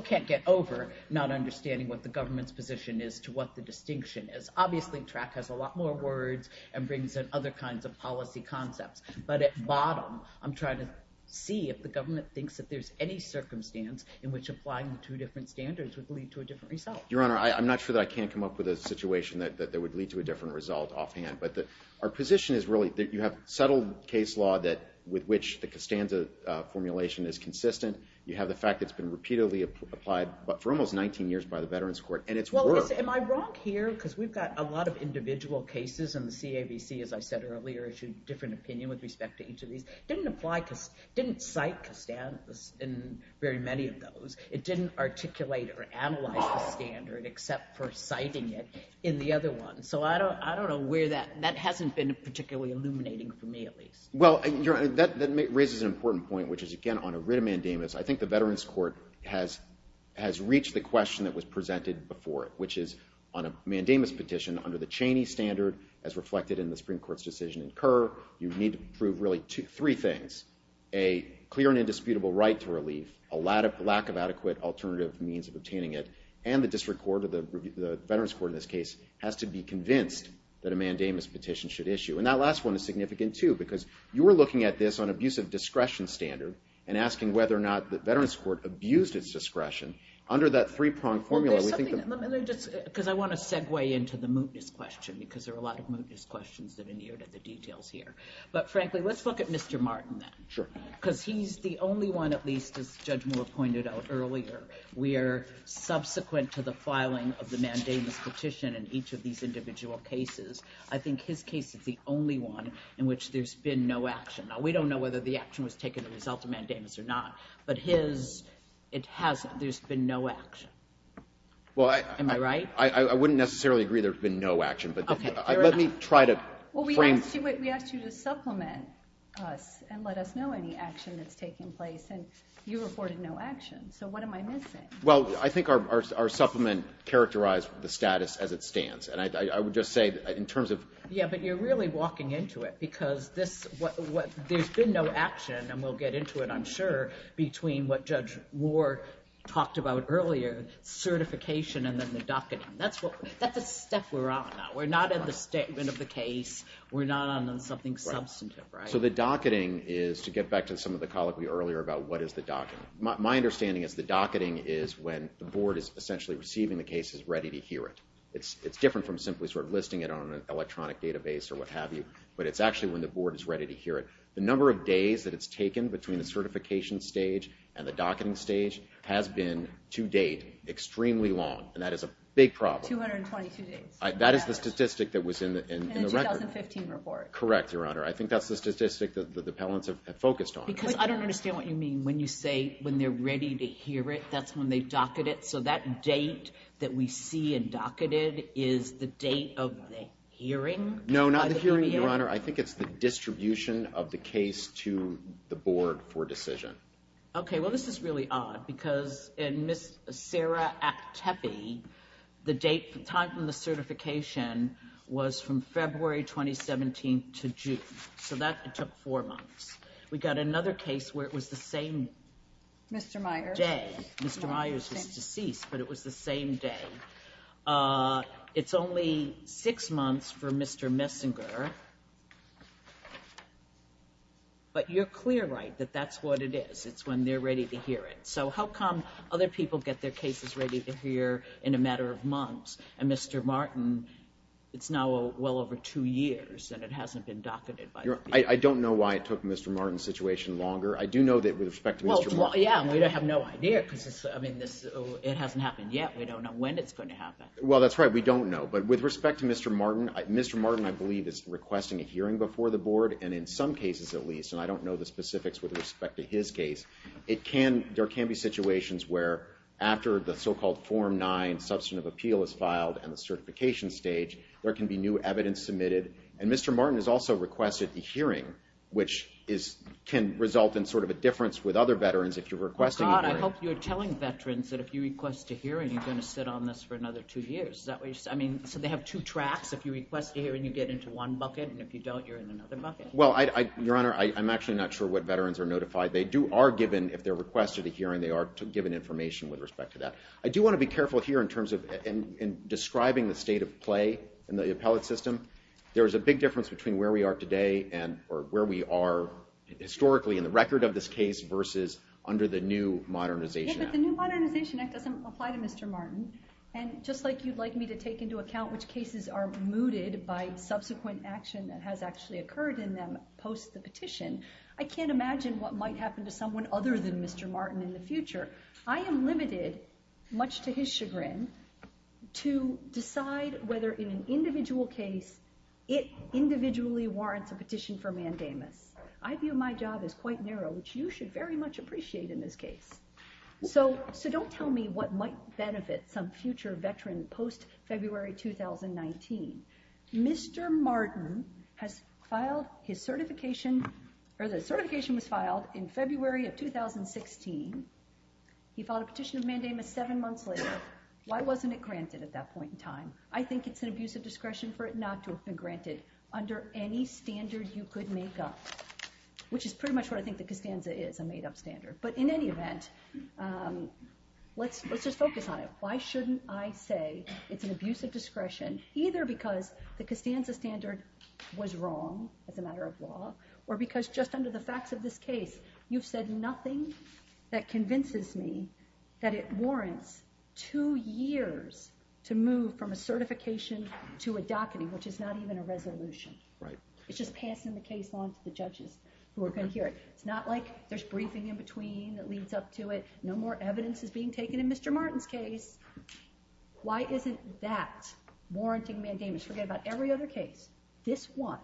can't get over not understanding what the government's position is to what the distinction is. Obviously, TRAC has a lot more words and brings in other kinds of policy concepts, but at bottom, I'm trying to see if the government thinks that there's any circumstance in which applying two different standards would lead to a different result. Your Honor, I'm not sure that I can come up with a situation that would lead to a different result offhand, but our position is really that you have settled case law with which the CASTANZA formulation is consistent. You have the fact that it's been repeatedly applied for almost 19 years by the Veterans Court, and it's worked. Well, am I wrong here? Because we've got a lot of individual cases and the CAVC, as I said earlier, issued a different opinion with respect to each of these. It didn't cite CASTANZA in very many of those. It didn't articulate or analyze that standard except for citing it in the other one. So I don't know where that, that hasn't been particularly illuminating for me at least. Well, Your Honor, that raises an important point, which is, again, on a writ of mandamus, I think the Veterans Court has reached the question that was presented before it, which is on a mandamus petition, under the Cheney standard as reflected in the Supreme Court's decision in Kerr, you need to prove really three things. A clear and indisputable right to relief, a lack of adequate alternative means of obtaining it, and the District Court, the Veterans Court in this case, has to be convinced that a mandamus petition should issue. And that last one is significant too, because you're looking at this on abusive discretion standard and asking whether or not the Veterans Court abuses discretion under that three-pronged formula. Let me just, because I want to segue into the mootness question, because there are a lot of mootness questions in the details here. But frankly, let's look at Mr. Martin. Sure. Because he's the only one, at least as Judge Moore pointed out earlier, where subsequent to the filing of the mandamus petition in each of these individual cases, I think his case is the only one in which there's been no action. Now, we don't know whether the action was taken as a result of mandamus or not, but his, it hasn't. There's been no action. Am I right? I wouldn't necessarily agree there's been no action, but let me try to frame... Well, we asked you to supplement and let us know any action that's taking place, and you reported no action. So what am I missing? Well, I think our supplement characterized the status as it stands. And I think you're really walking into it, because there's been no action, and we'll get into it, I'm sure, between what Judge Moore talked about earlier, certification and then the docketing. That's what we're on now. We're not on the statement of the case. We're not on something substantive, right? So the docketing is, to get back to some of the colloquy earlier about what is the docketing, my understanding is the docketing is when the board is essentially receiving the cases ready to hear it. It's different from simply sort of listing it on an electronic database or what have you, but it's actually when the board is ready to hear it. The number of days that it's taken between the certification stage and the docketing stage has been, to date, extremely long, and that is a big problem. That is the statistic that was in the record. Correct, Your Honor. I think that's the statistic that the appellants have focused on. Because I don't understand what you mean when you say when they're ready to hear it, that's when they docket it. So that date that we see in docketed is the date of the hearing? No, not the hearing, Your Honor. I think it's the distribution of the case to the board for decision. Okay, well this is really odd because in Sarah Tepe, the date, the time from the certification was from February 2017 to June. So that took four months. We've got another case where it was the same day. Mr. Myers is deceased, but it was the same day. It's only six months for Mr. Messinger, but you're clear, right, that that's what it is. It's when they're ready to hear it. So how come other people get their cases ready to hear in a matter of months, and Mr. Martin, it's now well over two years, and it hasn't been docketed by the board. I don't know why it took Mr. Martin's situation longer. I do know that it would have taken longer. Well, yeah, we have no idea because it hasn't happened yet. We don't know when it's going to happen. Well, that's right. We don't know, but with respect to Mr. Martin, Mr. Martin I believe is requesting a hearing before the board, and in some cases at least, and I don't know the specifics with respect to his case, there can be situations where after the so-called Form 9 Substantive Appeal is filed and the certification stage, there can be new evidence submitted, and Mr. Martin has also requested a hearing, which can result in sort of a difference with other veterans if you're requesting a hearing. Oh, God, I hope you're telling veterans that if you request a hearing, you're going to sit on this for another two years. I mean, so they have two tracks. If you request a hearing, you get into one bucket, and if you don't, you're in another bucket. Well, Your Honor, I'm actually not sure what veterans are notified. They do are given, if they're requested a hearing, they are given information with respect to that. I do want to be careful here in terms of describing the state of play in the appellate system. There's a big difference between where we are today and, or where we are historically in the record of this case versus under the new Modernization Act. Yes, but the new Modernization Act doesn't apply to Mr. Martin, and just like you'd like me to take into account which cases are mooted by subsequent action that has actually occurred in them post the petition, I can't imagine what might happen to someone other than Mr. Martin in the future. I am limited, much to his chagrin, to decide whether in an individual case, it individually warrants a petition for mandatement. I view my job as quite narrow, which you should very much appreciate in this case. So don't tell me what might benefit some future veteran post-February 2019. Mr. Martin has filed his certification, or the certification was filed in February of 2016. He filed a petition of mandatement seven months later. Why wasn't it granted at that point in time? I think it's an abuse of discretion for it not to have been granted under any standard you could make up, which is pretty much what I think the CASANDA is, a made-up standard. But in any event, let's just focus on it. Why shouldn't I say it's an abuse of discretion, either because the CASANDA standard was wrong as a matter of law, or because just under the facts of this case, you've said nothing that convinces me that it warrants two years to move from a mandamus to a mandamus. It's not even a resolution. It's just passing the case on to the judges who are going to hear it. It's not like there's briefing in between that leads up to it. No more evidence is being taken in Mr. Martin's case. Why isn't that warranting mandamus? Forget about every other case. This one,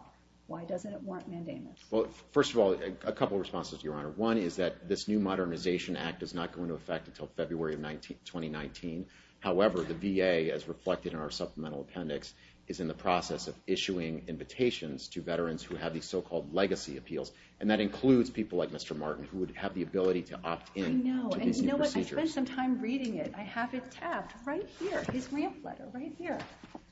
why doesn't it warrant mandamus? Well, first of all, a couple of responses, Your Honor. One is that this new Modernization Act is not going to affect until February 2019. However, the VA, as reflected in our supplemental appendix, is in the process of issuing invitations to veterans who have these so-called legacy appeals, and that includes people like Mr. Martin, who would have the ability to opt-in to these new procedures. I know, and you know what? I spent some time reading it. I have it kept right here, his rant letter, right here.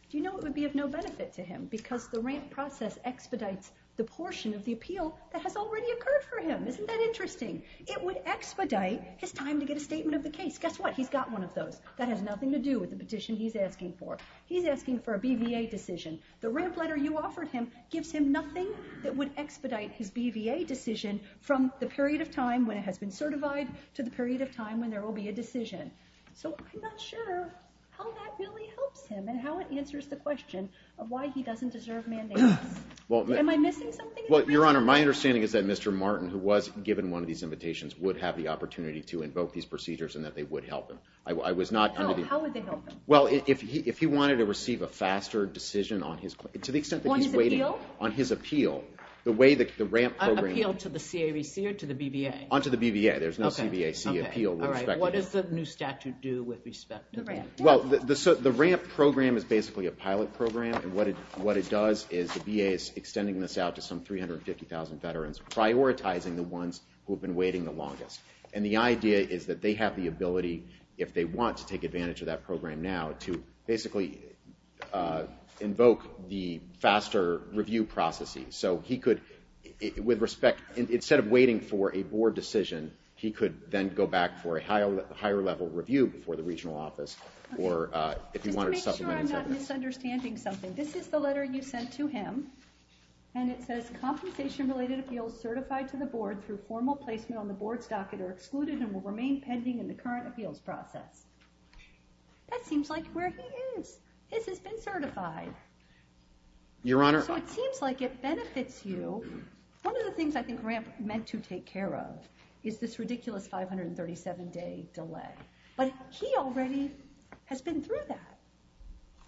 Do you know what would be of no benefit to him? Because the rant process expedites the portion of the appeal that has already occurred for him. Isn't that interesting? It would expedite his time to get a statement of the case. Guess what? He's got one of those. That has nothing to do with the petition he's asking for. He's asking for a BVA decision. The rant letter you offered him gives him nothing that would expedite his BVA decision from the period of time when it has been certified to the period of time when there will be a decision. So, I'm not sure how that really helps him and how it answers the question of why he doesn't deserve mandamus. Am I missing something? Well, Your Honor, my understanding is that Mr. Martin, who was given one of these invitations, would have the opportunity to invoke these procedures and that they would help him. How would they help him? If he wanted to receive a faster decision on his appeal, on his appeal, appeal to the CAVC or to the BVA? On to the BVA. There's no CBAC appeal. What does the new statute do with respect to that? The rant program is basically a pilot program and what it does is the VA is extending this out to some 350,000 veterans, prioritizing the ones who have been waiting the longest. And the idea is that they have the ability, if they want to take advantage of that program now, to basically invoke the faster review processes. So, he could with respect, instead of waiting for a board decision, he could then go back for a higher level review before the regional office or if he wanted something like that. Let me make sure I'm not misunderstanding something. This is the letter you sent to him and it says, compensation-related appeals certified to the board through formal placement on the board stocket are excluded and will remain pending in the current appeals process. That seems like where he is. This has been certified. It seems like it benefits you. One of the things I think Grant meant to take care of is this ridiculous 537 days delay. But he already has been through that.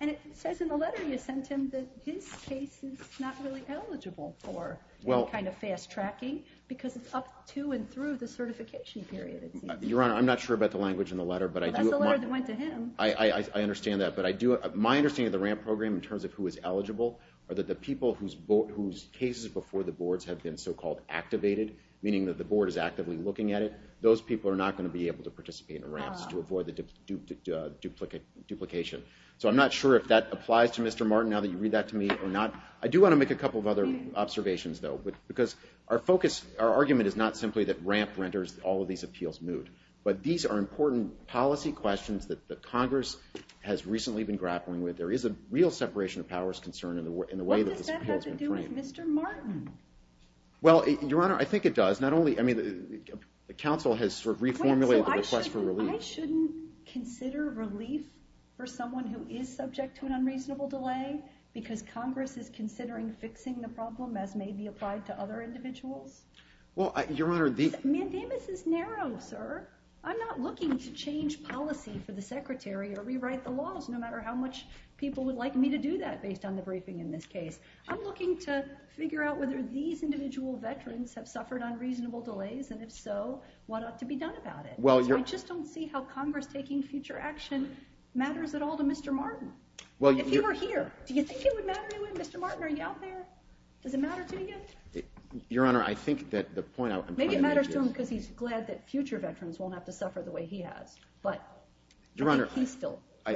And it says in the letter you sent him that this case is not really eligible for any kind of fast tracking because it's up to and through the certification period. Your Honor, I'm not sure about the language in the letter, but I do... That's the letter that went to him. I understand that, but I do... My understanding of the RAMP program in terms of who is eligible are that the people whose cases before the boards have been so-called activated, meaning that the board is actively looking at it, those people are not going to be able to participate in a RAMP to avoid the duplication. So I'm not sure if that applied to Mr. Martin, now that you read that to me, or not. I do want to make a couple of other observations, though. Because our focus, our argument is not simply that RAMP renders all of these appeals moot. But these are important policy questions that Congress has recently been grappling with. There is a real separation of powers concern in the way... What does that have to do with Mr. Martin? Well, Your Honor, I think it does. Not only... The council has reformulated the request for relief. I shouldn't consider relief for someone who is subject to an unreasonable delay because Congress is considering fixing the problem as may be applied to other individuals? Well, Your Honor... Mandamus is narrow, sir. I'm not looking to change policy for the Secretary or rewrite the laws, no matter how much people would like me to do that based on the briefing in this case. I'm looking to figure out whether these individual veterans have suffered unreasonable delays, and if so, what ought to be done about it. I just don't see how Congress taking future action matters at all to Mr. Martin. If you were here, do you think it would matter to him? Mr. Martin, are you out there? Does it matter to you? Your Honor, I think that the point I was complaining to... Maybe it matters to him because he's glad that future veterans won't have to suffer the way he has. But... Your Honor,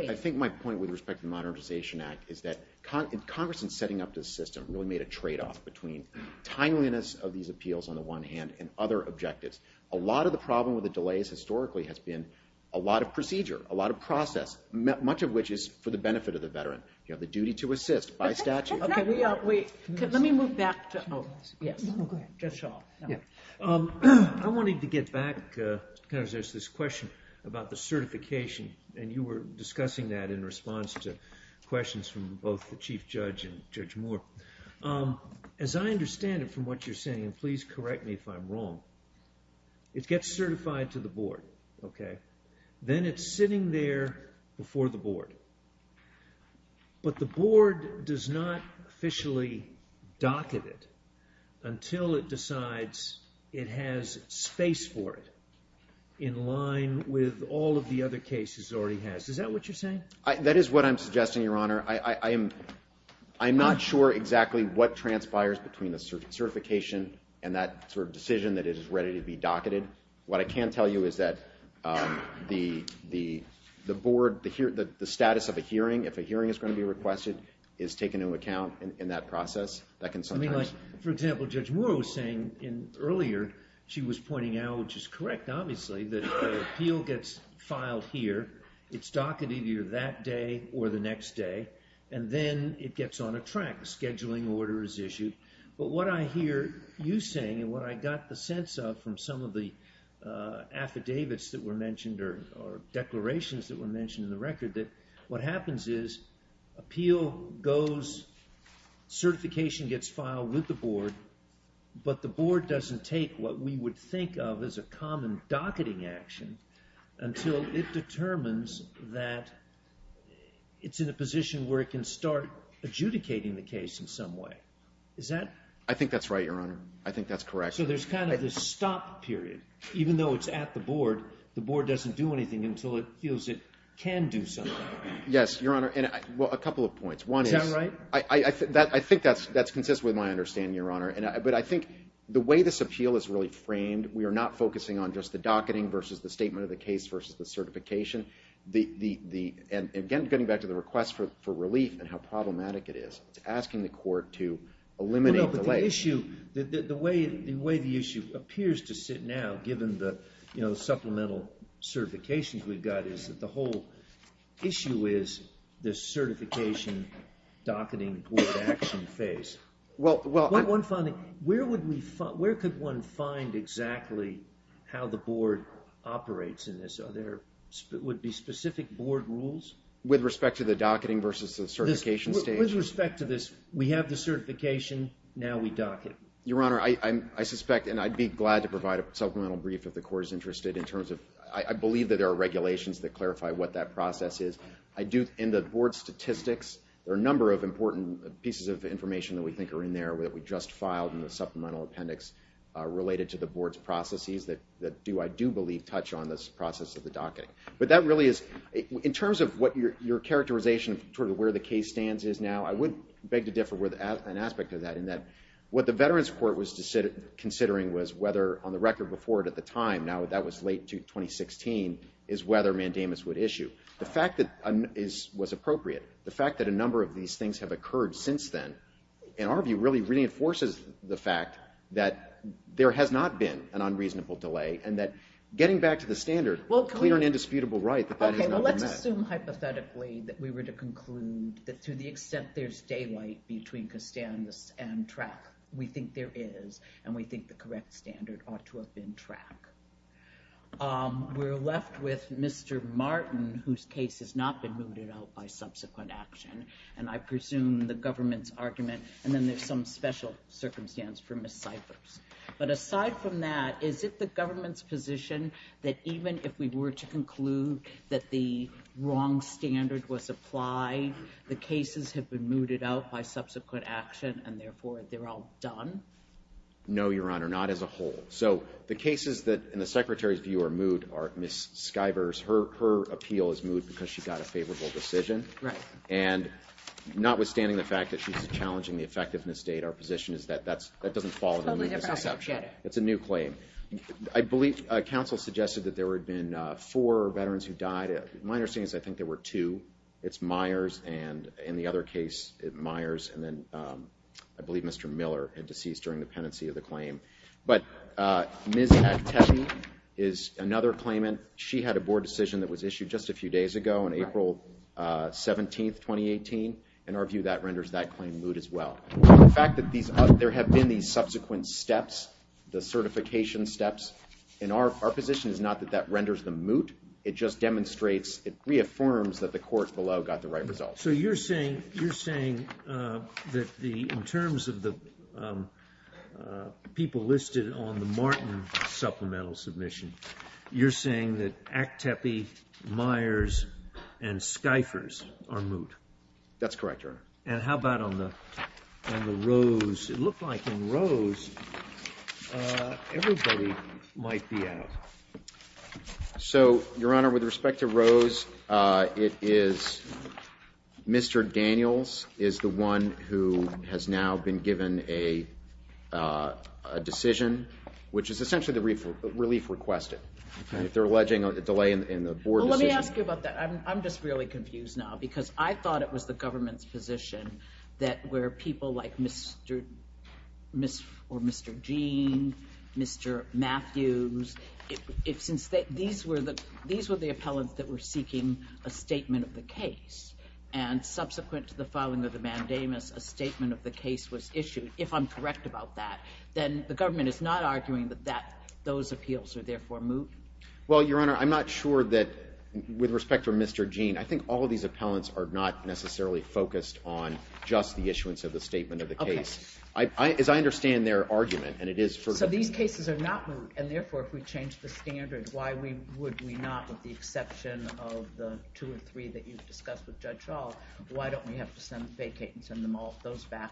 I think my point with respect to the Modernization Act is that Congress in setting up this system really made a trade-off between timeliness of these appeals on the one hand and other objectives. A lot of the problem with the delays historically has been a lot of procedure, a lot of process, much of which is for the benefit of the veteran. The duty to assist by statute... Let me move back... Just shut off. I wanted to get back to this question about the certification, and you were discussing that in response to questions from both the Chief Judge and Judge Moore. As I understand it from what you're saying, and please correct me if I'm wrong, it gets certified to the Board. Then it's sitting there before the Board. But the Board does not officially docket it until it decides it has space for it in line with all of the other cases it already has. Is that what you're saying? That is what I'm suggesting, Your Honor. I'm not sure exactly what transpires between the certification and that decision that is ready to be docketed. What I can tell you is that the Board, the status of a hearing, if a hearing is going to be requested, is taken into account in that process. For example, Judge Moore was saying earlier she was pointing out, which is correct obviously, that the appeal gets filed here, it's docketed either that day or the next day, and then it gets on a track. A scheduling order is issued. But what I hear you saying, and what I got the sense of from some of the affidavits that were mentioned or declarations that were mentioned in the record, that what happens is, appeal goes, certification gets filed with the Board, but the Board doesn't take what we would think of as a common docketing action until it determines that it's in a position where it can start adjudicating the case in some way. Is that? I think that's right, Your Honor. I think that's correct. So there's kind of this stop period. Even though it's at the Board, the Board doesn't do anything until it feels it can do something. Yes, Your Honor, and a couple of points. Is that right? I think that's consistent with my understanding, Your Honor. But I think the way this appeal is really framed, we are not focusing on just the docketing versus the statement of the case versus the certification. And again, getting back to the request for relief and how problematic it is, it's asking the Court to eliminate the lay. The way the issue appears to sit now, given the supplemental certifications we've got, is that the whole issue is this certification docketing Board action phase. Where could one find exactly how the Board operates in this? Would there be specific Board rules? With respect to the docketing versus the certification stage? With respect to this, we have the certification, now we docket. Your Honor, I suspect and I'd be glad to provide a supplemental brief if the Court is interested in terms of, I believe that there are regulations that clarify what that process is. In the Board statistics, there are a number of important pieces of information that we think are in there that we just filed in the supplemental appendix related to the Board's processes that I do believe touch on this process of the docketing. In terms of what your characterization of where the case stands is now, I would beg to differ with an aspect of that in that what the Veterans Court was considering was whether, on the record before it at the time, now that was late to 2016, is whether mandamus would issue. The fact that it was appropriate, the fact that a number of these things have occurred since then, in our view, really reinforces the fact that there has not been an unreasonable delay and that getting back to the standard, clear and indisputable right, the finding of the appendix. Okay, well let's assume hypothetically that we were to conclude that to the extent there's daylight between Kastanis and track, we think there is, and we think the correct standard ought to have been track. We're left with Mr. Martin whose case has not been moved at all by subsequent action, and I presume the government's argument, and then there's some special circumstance for Ms. Skivers. But aside from that, is it the government's position that even if we were to conclude that the wrong standard was applied, the cases have been mooted out by subsequent action, and therefore they're all done? No, Your Honor, not as a whole. So the cases that, in the Secretary's view, are moot are Ms. Skivers, her appeal is moot because she got a favorable decision, and notwithstanding the fact that she's challenging the effectiveness data, our position is that that doesn't fall under Ms. Skivers. It's a new claim. I believe, counsel suggested that there had been four veterans who died. My understanding is I think there were two. It's Myers, and in the other case, it's Myers, and then I believe Mr. Miller had deceased during the pendency of the claim. But Ms. Attevi is another claimant. She had a board decision that was issued just a few days ago on April 17, 2018, and our view that renders that claim moot as well. The fact that there have been these subsequent steps, the certification steps, and our position is not that that renders them moot. It just demonstrates it reaffirms that the court below got the right result. So you're saying that people listed on the Martin supplemental submission, you're saying that Attevi, Myers, and Skivers are moot? That's correct, Your Honor. And how about on the Rose? It looked like in Rose everybody might be out. So, Your Honor, with respect to Rose, it is Mr. Daniels is the one who has now been given a decision, which is essentially the relief requested. If they're alleging a delay in the board decision... I'm just really confused now, because I thought it was the government's position that where people like Mr. Gene, Mr. Matthews, it seems that these were the appellants that were seeking a statement of the case. And subsequent to the filing of the mandamus, a statement of the case was issued. If I'm correct about that, then the government is not arguing that those appeals were therefore moot? Well, Your Honor, I'm not sure that, with respect to Mr. Gene, I think all of these appellants are not necessarily focused on just the issuance of the statement of the case. As I understand their argument, and it is for... So these cases are not moot, and therefore if we change the standards, why would we not, with the exception of the two or three that you've discussed with Judge Shaw, why don't we have to send the state patents and those back?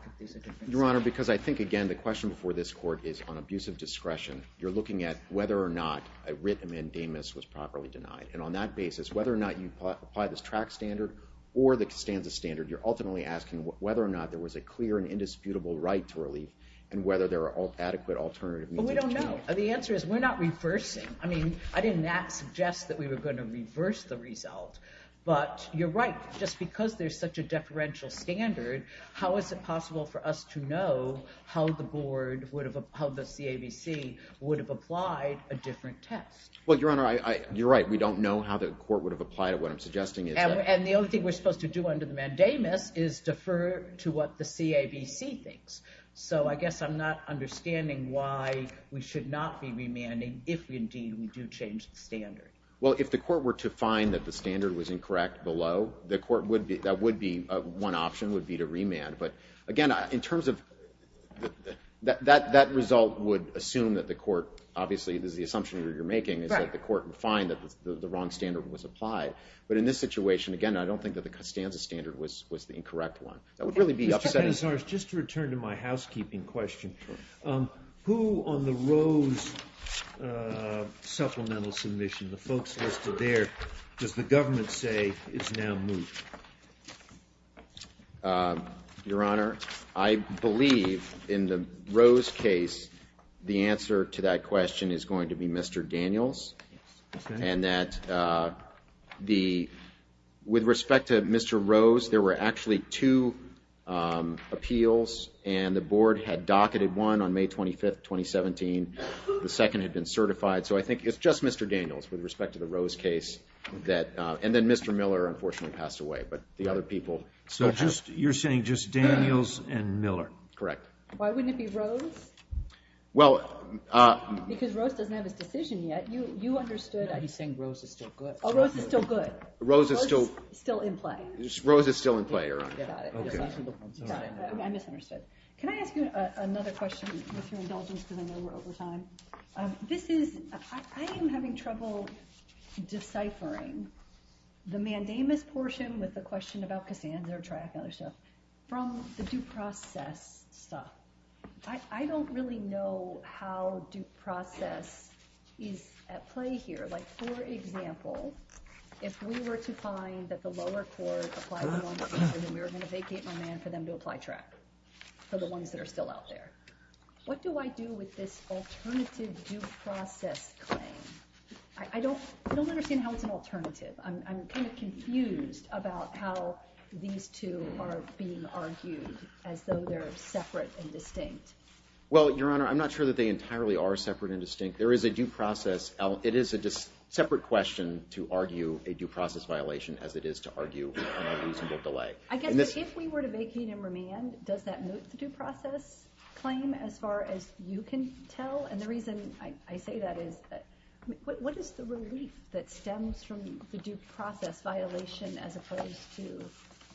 Your Honor, because I think, again, the question before this Court is on abuse of discretion. You're looking at whether or not a written mandamus was properly denied. And on that basis, whether or not you apply this track standard, or the standard you're ultimately asking whether or not there was a clear and indisputable right to relief, and whether there are adequate alternative means. Well, we don't know. The answer is we're not reversing. I mean, I didn't suggest that we were going to reverse the results, but you're right. Just because there's such a deferential standard, how is it possible for us to know how the board would have, how the CABC would have applied a different test? Well, Your Honor, you're right. We don't know how the Court would have applied what I'm suggesting. And the only thing we're supposed to do under the mandamus is defer to what the CABC thinks. So, I guess I'm not understanding why we should not be remanding if, indeed, we do change the standards. Well, if the Court were to find that the standard was incorrect below, the Court would be, one option would be to remand. But, again, in terms of, that result would assume that the Court obviously, the assumption you're making is that the Court would find that the wrong standard was applied. But in this situation, again, I don't think that the standard was the incorrect one. That would really be upsetting. Just to return to my housekeeping question, who on the Rose supplemental submission, the folks listed there, does the government say is now moved? Your Honor, I believe in the Rose case, the answer to that question is going to be Mr. Daniels. And that the, with respect to Mr. Rose, there were actually two appeals and the Board had docketed one on May 25th, 2017. The second had been certified. So, I think it's just Mr. Daniels with respect to the Rose case that, and then Mr. Miller unfortunately passed away. But the other people So just, you're saying just Daniels and Miller, correct? Why wouldn't it be Rose? Well, uh... Because Rose doesn't have a decision yet. You understood He's saying Rose is still good. Rose is still in play. Rose is still in play, Your Honor. I misunderstood. Can I ask you another question? Mr. Indulgence, I know you were over time. This is, I am having trouble deciphering the mandamus portion with the question about the hands that are trapped on the shelf from the due process stuff. I don't really know how due process is at play here. Like, for example, if we were to find that the lower court applied the moment we were going to vacate my man for them to apply track for the ones that are still out there. What do I do with this alternative due process claim? I don't understand how it's an alternative. I'm kind of confused about how these two are being argued as though they're separate and distinct. Well, Your Honor, I'm not sure that they entirely are separate and distinct. There is a due process it is a separate question to argue a due process violation as it is to argue a reasonable delay. If we were to vacate and remand does that move the due process claim as far as you can tell? And the reason I say that is, what is the relief that stems from the due process violation as opposed to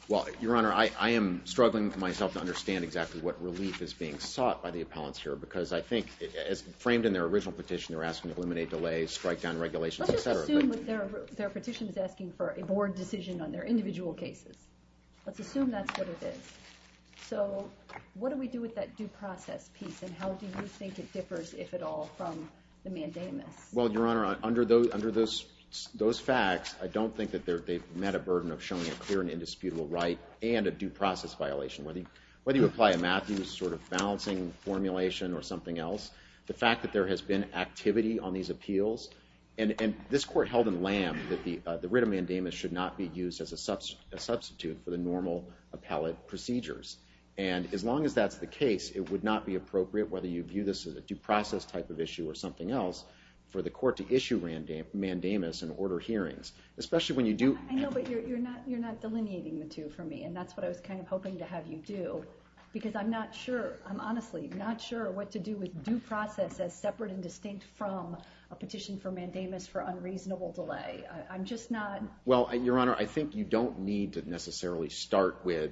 Well, Your Honor, I am struggling myself to understand exactly what relief is being sought by the appellants here because I think, as framed in their original petition, they're asking to eliminate delays, strike down regulations, etc. Let's just assume their petition is asking for a board decision on their individual cases. Let's assume that's what it is. So, what do we do with that due process piece and how do you think it Well, Your Honor, under those facts, I don't think that they've met a burden of showing up here an indisputable right and a due process violation. Whether you apply a Matthews sort of balancing formulation or something else, the fact that there has been activity on these appeals and this court held in land that the writ of mandamus should not be used as a substitute for the normal appellate procedures. And as long as that's the case, it would not be appropriate, whether you view this as a due process type of issue or something else, for the court to issue mandamus and order hearings. I know, but you're not delineating the two for me and that's what I was hoping to have you do. Because I'm honestly not sure what to do with due process as separate and distinct from a petition for mandamus for unreasonable delay. I'm just not... Well, Your Honor, I think you don't need to necessarily start with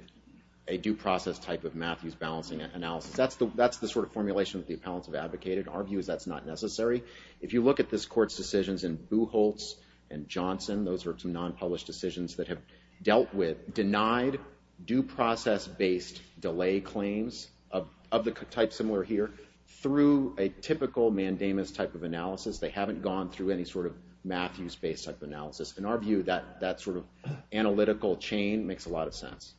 a due process type of Matthews balancing analysis. That's the sort of formulation that the appellants have advocated. Our view is that's not necessary. If you look at this court's decisions in Buchholz and Johnson, those are some non-published decisions that have dealt with denied due process-based delay claims of the type similar here through a typical mandamus type of analysis. They haven't gone through any sort of Matthews based type analysis. In our view, that sort of analytical chain makes a lot of sense.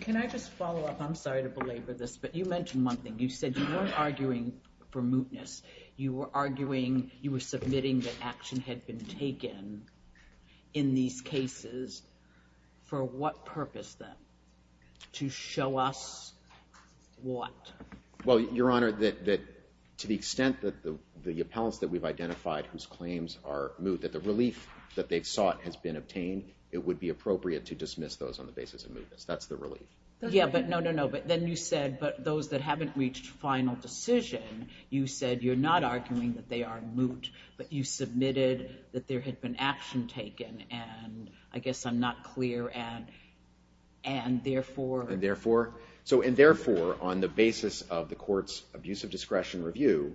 Can I just follow up? I'm sorry to belabor this, but you mentioned one thing. You said you weren't arguing for mootness. You were arguing you were submitting that action had been taken in these cases for what purpose then? To show us what? Well, Your Honor, to the extent that the appellants that we've identified whose claims are moot, that the relief that they've sought has been obtained, it would be mootness. That's the relief. But then you said those that haven't reached final decision, you said you're not arguing that they are moot, but you submitted that there had been action taken. I guess I'm not clear. And therefore... And therefore on the basis of the court's abuse of discretion review,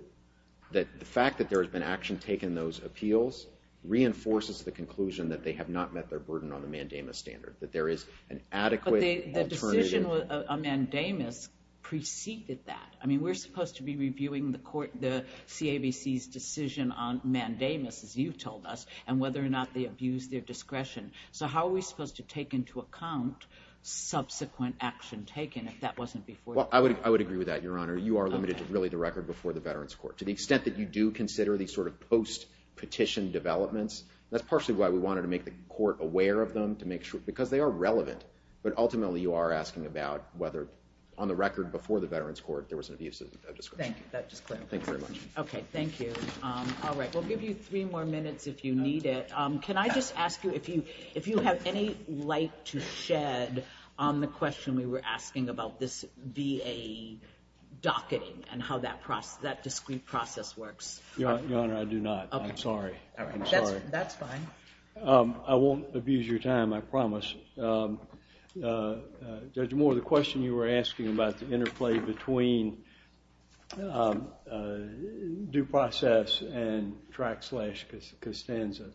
the fact that there has been action taken in those appeals reinforces the conclusion that they have not met their burden on the mandamus standard, that there is an adequate alternative... But the decision on mandamus preceded that. I mean, we're supposed to be reviewing the court, the CABC's decision on mandamus, as you've told us, and whether or not they abused their discretion. So how are we supposed to take into account subsequent action taken if that wasn't before... Well, I would agree with that, Your Honor. You are limited to really the record before the Veterans Court. To the extent that you do consider these sort of post petition developments, that's partially why we wanted to make the court aware of them, because they are relevant. But ultimately you are asking about whether on the record before the Veterans Court there was abuse of discretion. Thank you very much. Okay. Thank you. All right. We'll give you three more minutes if you need it. Can I just ask you if you have any light to shed on the question we were asking about this VA docketing and how that discrete process works? Your Honor, I do not. I'm sorry. I'm sorry. That's fine. I won't abuse your time, I promise. There's more to the question you were asking about the interplay between due process and track slash Costanza.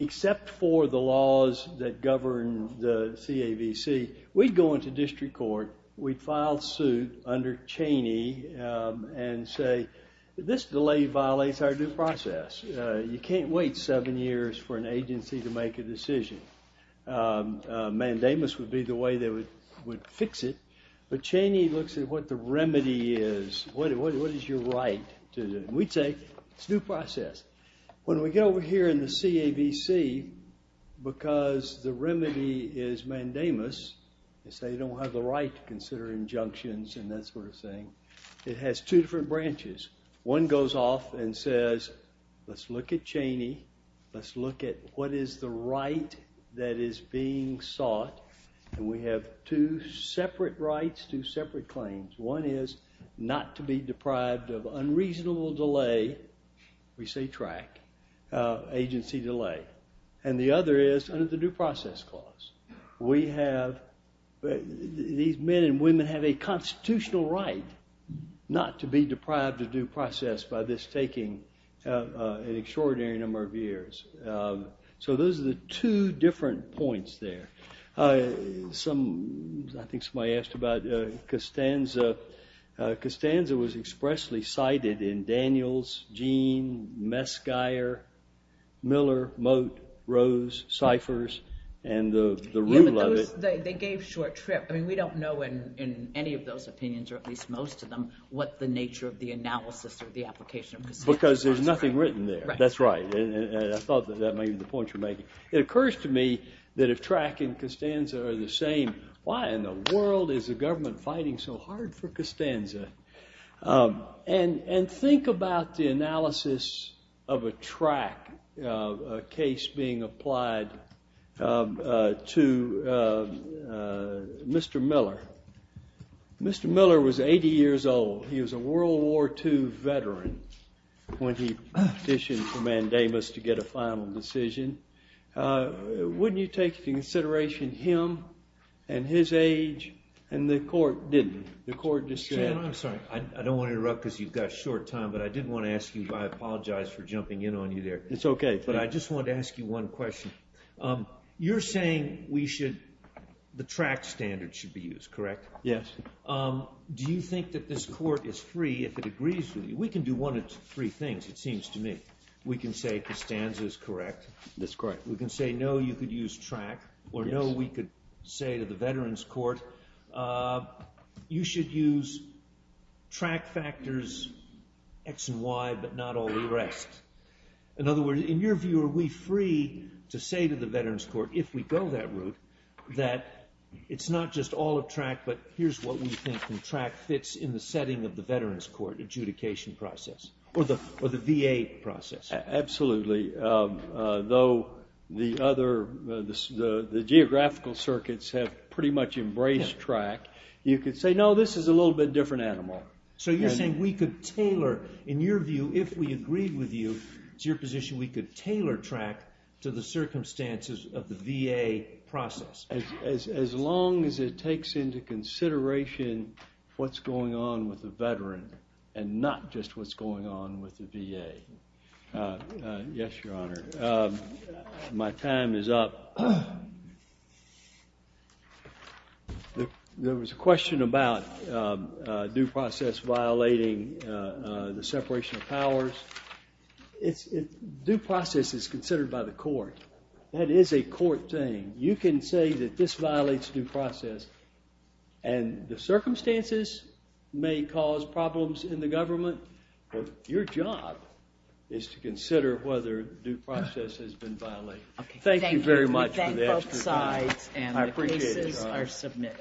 Except for the laws that govern the CAVC, we go into district court, we file suit under Cheney and say this delay violates our due process. You can't wait seven years for an agency to make a decision. Mandamus would be the way they would fix it, but Cheney looks at what the remedy is. What is your right? We take due process. When we get over here in the CAVC because the remedy is mandamus, they say you don't have the right to consider injunctions and that sort of thing. It has two different branches. One goes off and says let's look at Cheney, let's look at what is the right that is being sought and we have two separate rights, two separate claims. One is not to be deprived of unreasonable delay, we say track, agency delay. And the other is under the due process clause. We have these men and women have a constitutional right not to be deprived of due process by this taking an extraordinary number of years. So those are the two different points there. I think somebody asked about Costanza. Costanza was expressly cited in Daniels, Gene, Meskire, Miller, Mote, Rose, Cyphers, and the rule of it. They gave short script. We don't know in any of those opinions or at least most of them what the nature of the analysis or the application was. Because there's nothing written there. That's right. I thought that may be the point you're making. It occurs to me that if track and Costanza are the same, why in the world is the government fighting so hard for Costanza? And think about the analysis of a track, a case being applied Mr. Miller. Mr. Miller was 80 years old. He was a World War II veteran when he petitioned for mandamus to get a final decision. Wouldn't you take into consideration him and his age? And the court didn't. The court just said... I'm sorry. I don't want to interrupt because you've got short time, but I did want to ask you, I apologize for jumping in on you there. It's okay, but I just wanted to ask you one question. You're saying we should... the track standard should be used, correct? Yes. Do you think that this court is free if it agrees with you? We can do one of three things, it seems to me. We can say Costanza is correct. That's correct. We can say no, you could use track, or no, we could say to the Veterans Court you should use track factors X and Y but not all the rest. In other words, in your view, are we free to say to the Veterans Court, if we go that route, that it's not just all of track, but here's what we think from track fits in the setting of the Veterans Court adjudication process, or the VA process. Absolutely. Though the other... the geographical circuits have pretty much embraced track, you could say, no, this is a little bit different animal. So you're saying we could tailor, in your view, if we agreed with you, to your position we could tailor track to the circumstances of the VA process. As long as it takes into consideration what's going on with the Veteran, and not just what's going on with the VA. Yes, Your Honor. My time is up. There was a question about due process violating the separation of powers. Due process is considered by the court. That is a court thing. You can say that this violates due process and the circumstances may cause problems in the government, but your job is to has been violated. Thank you very much for the extra time. I appreciate it, Your Honor.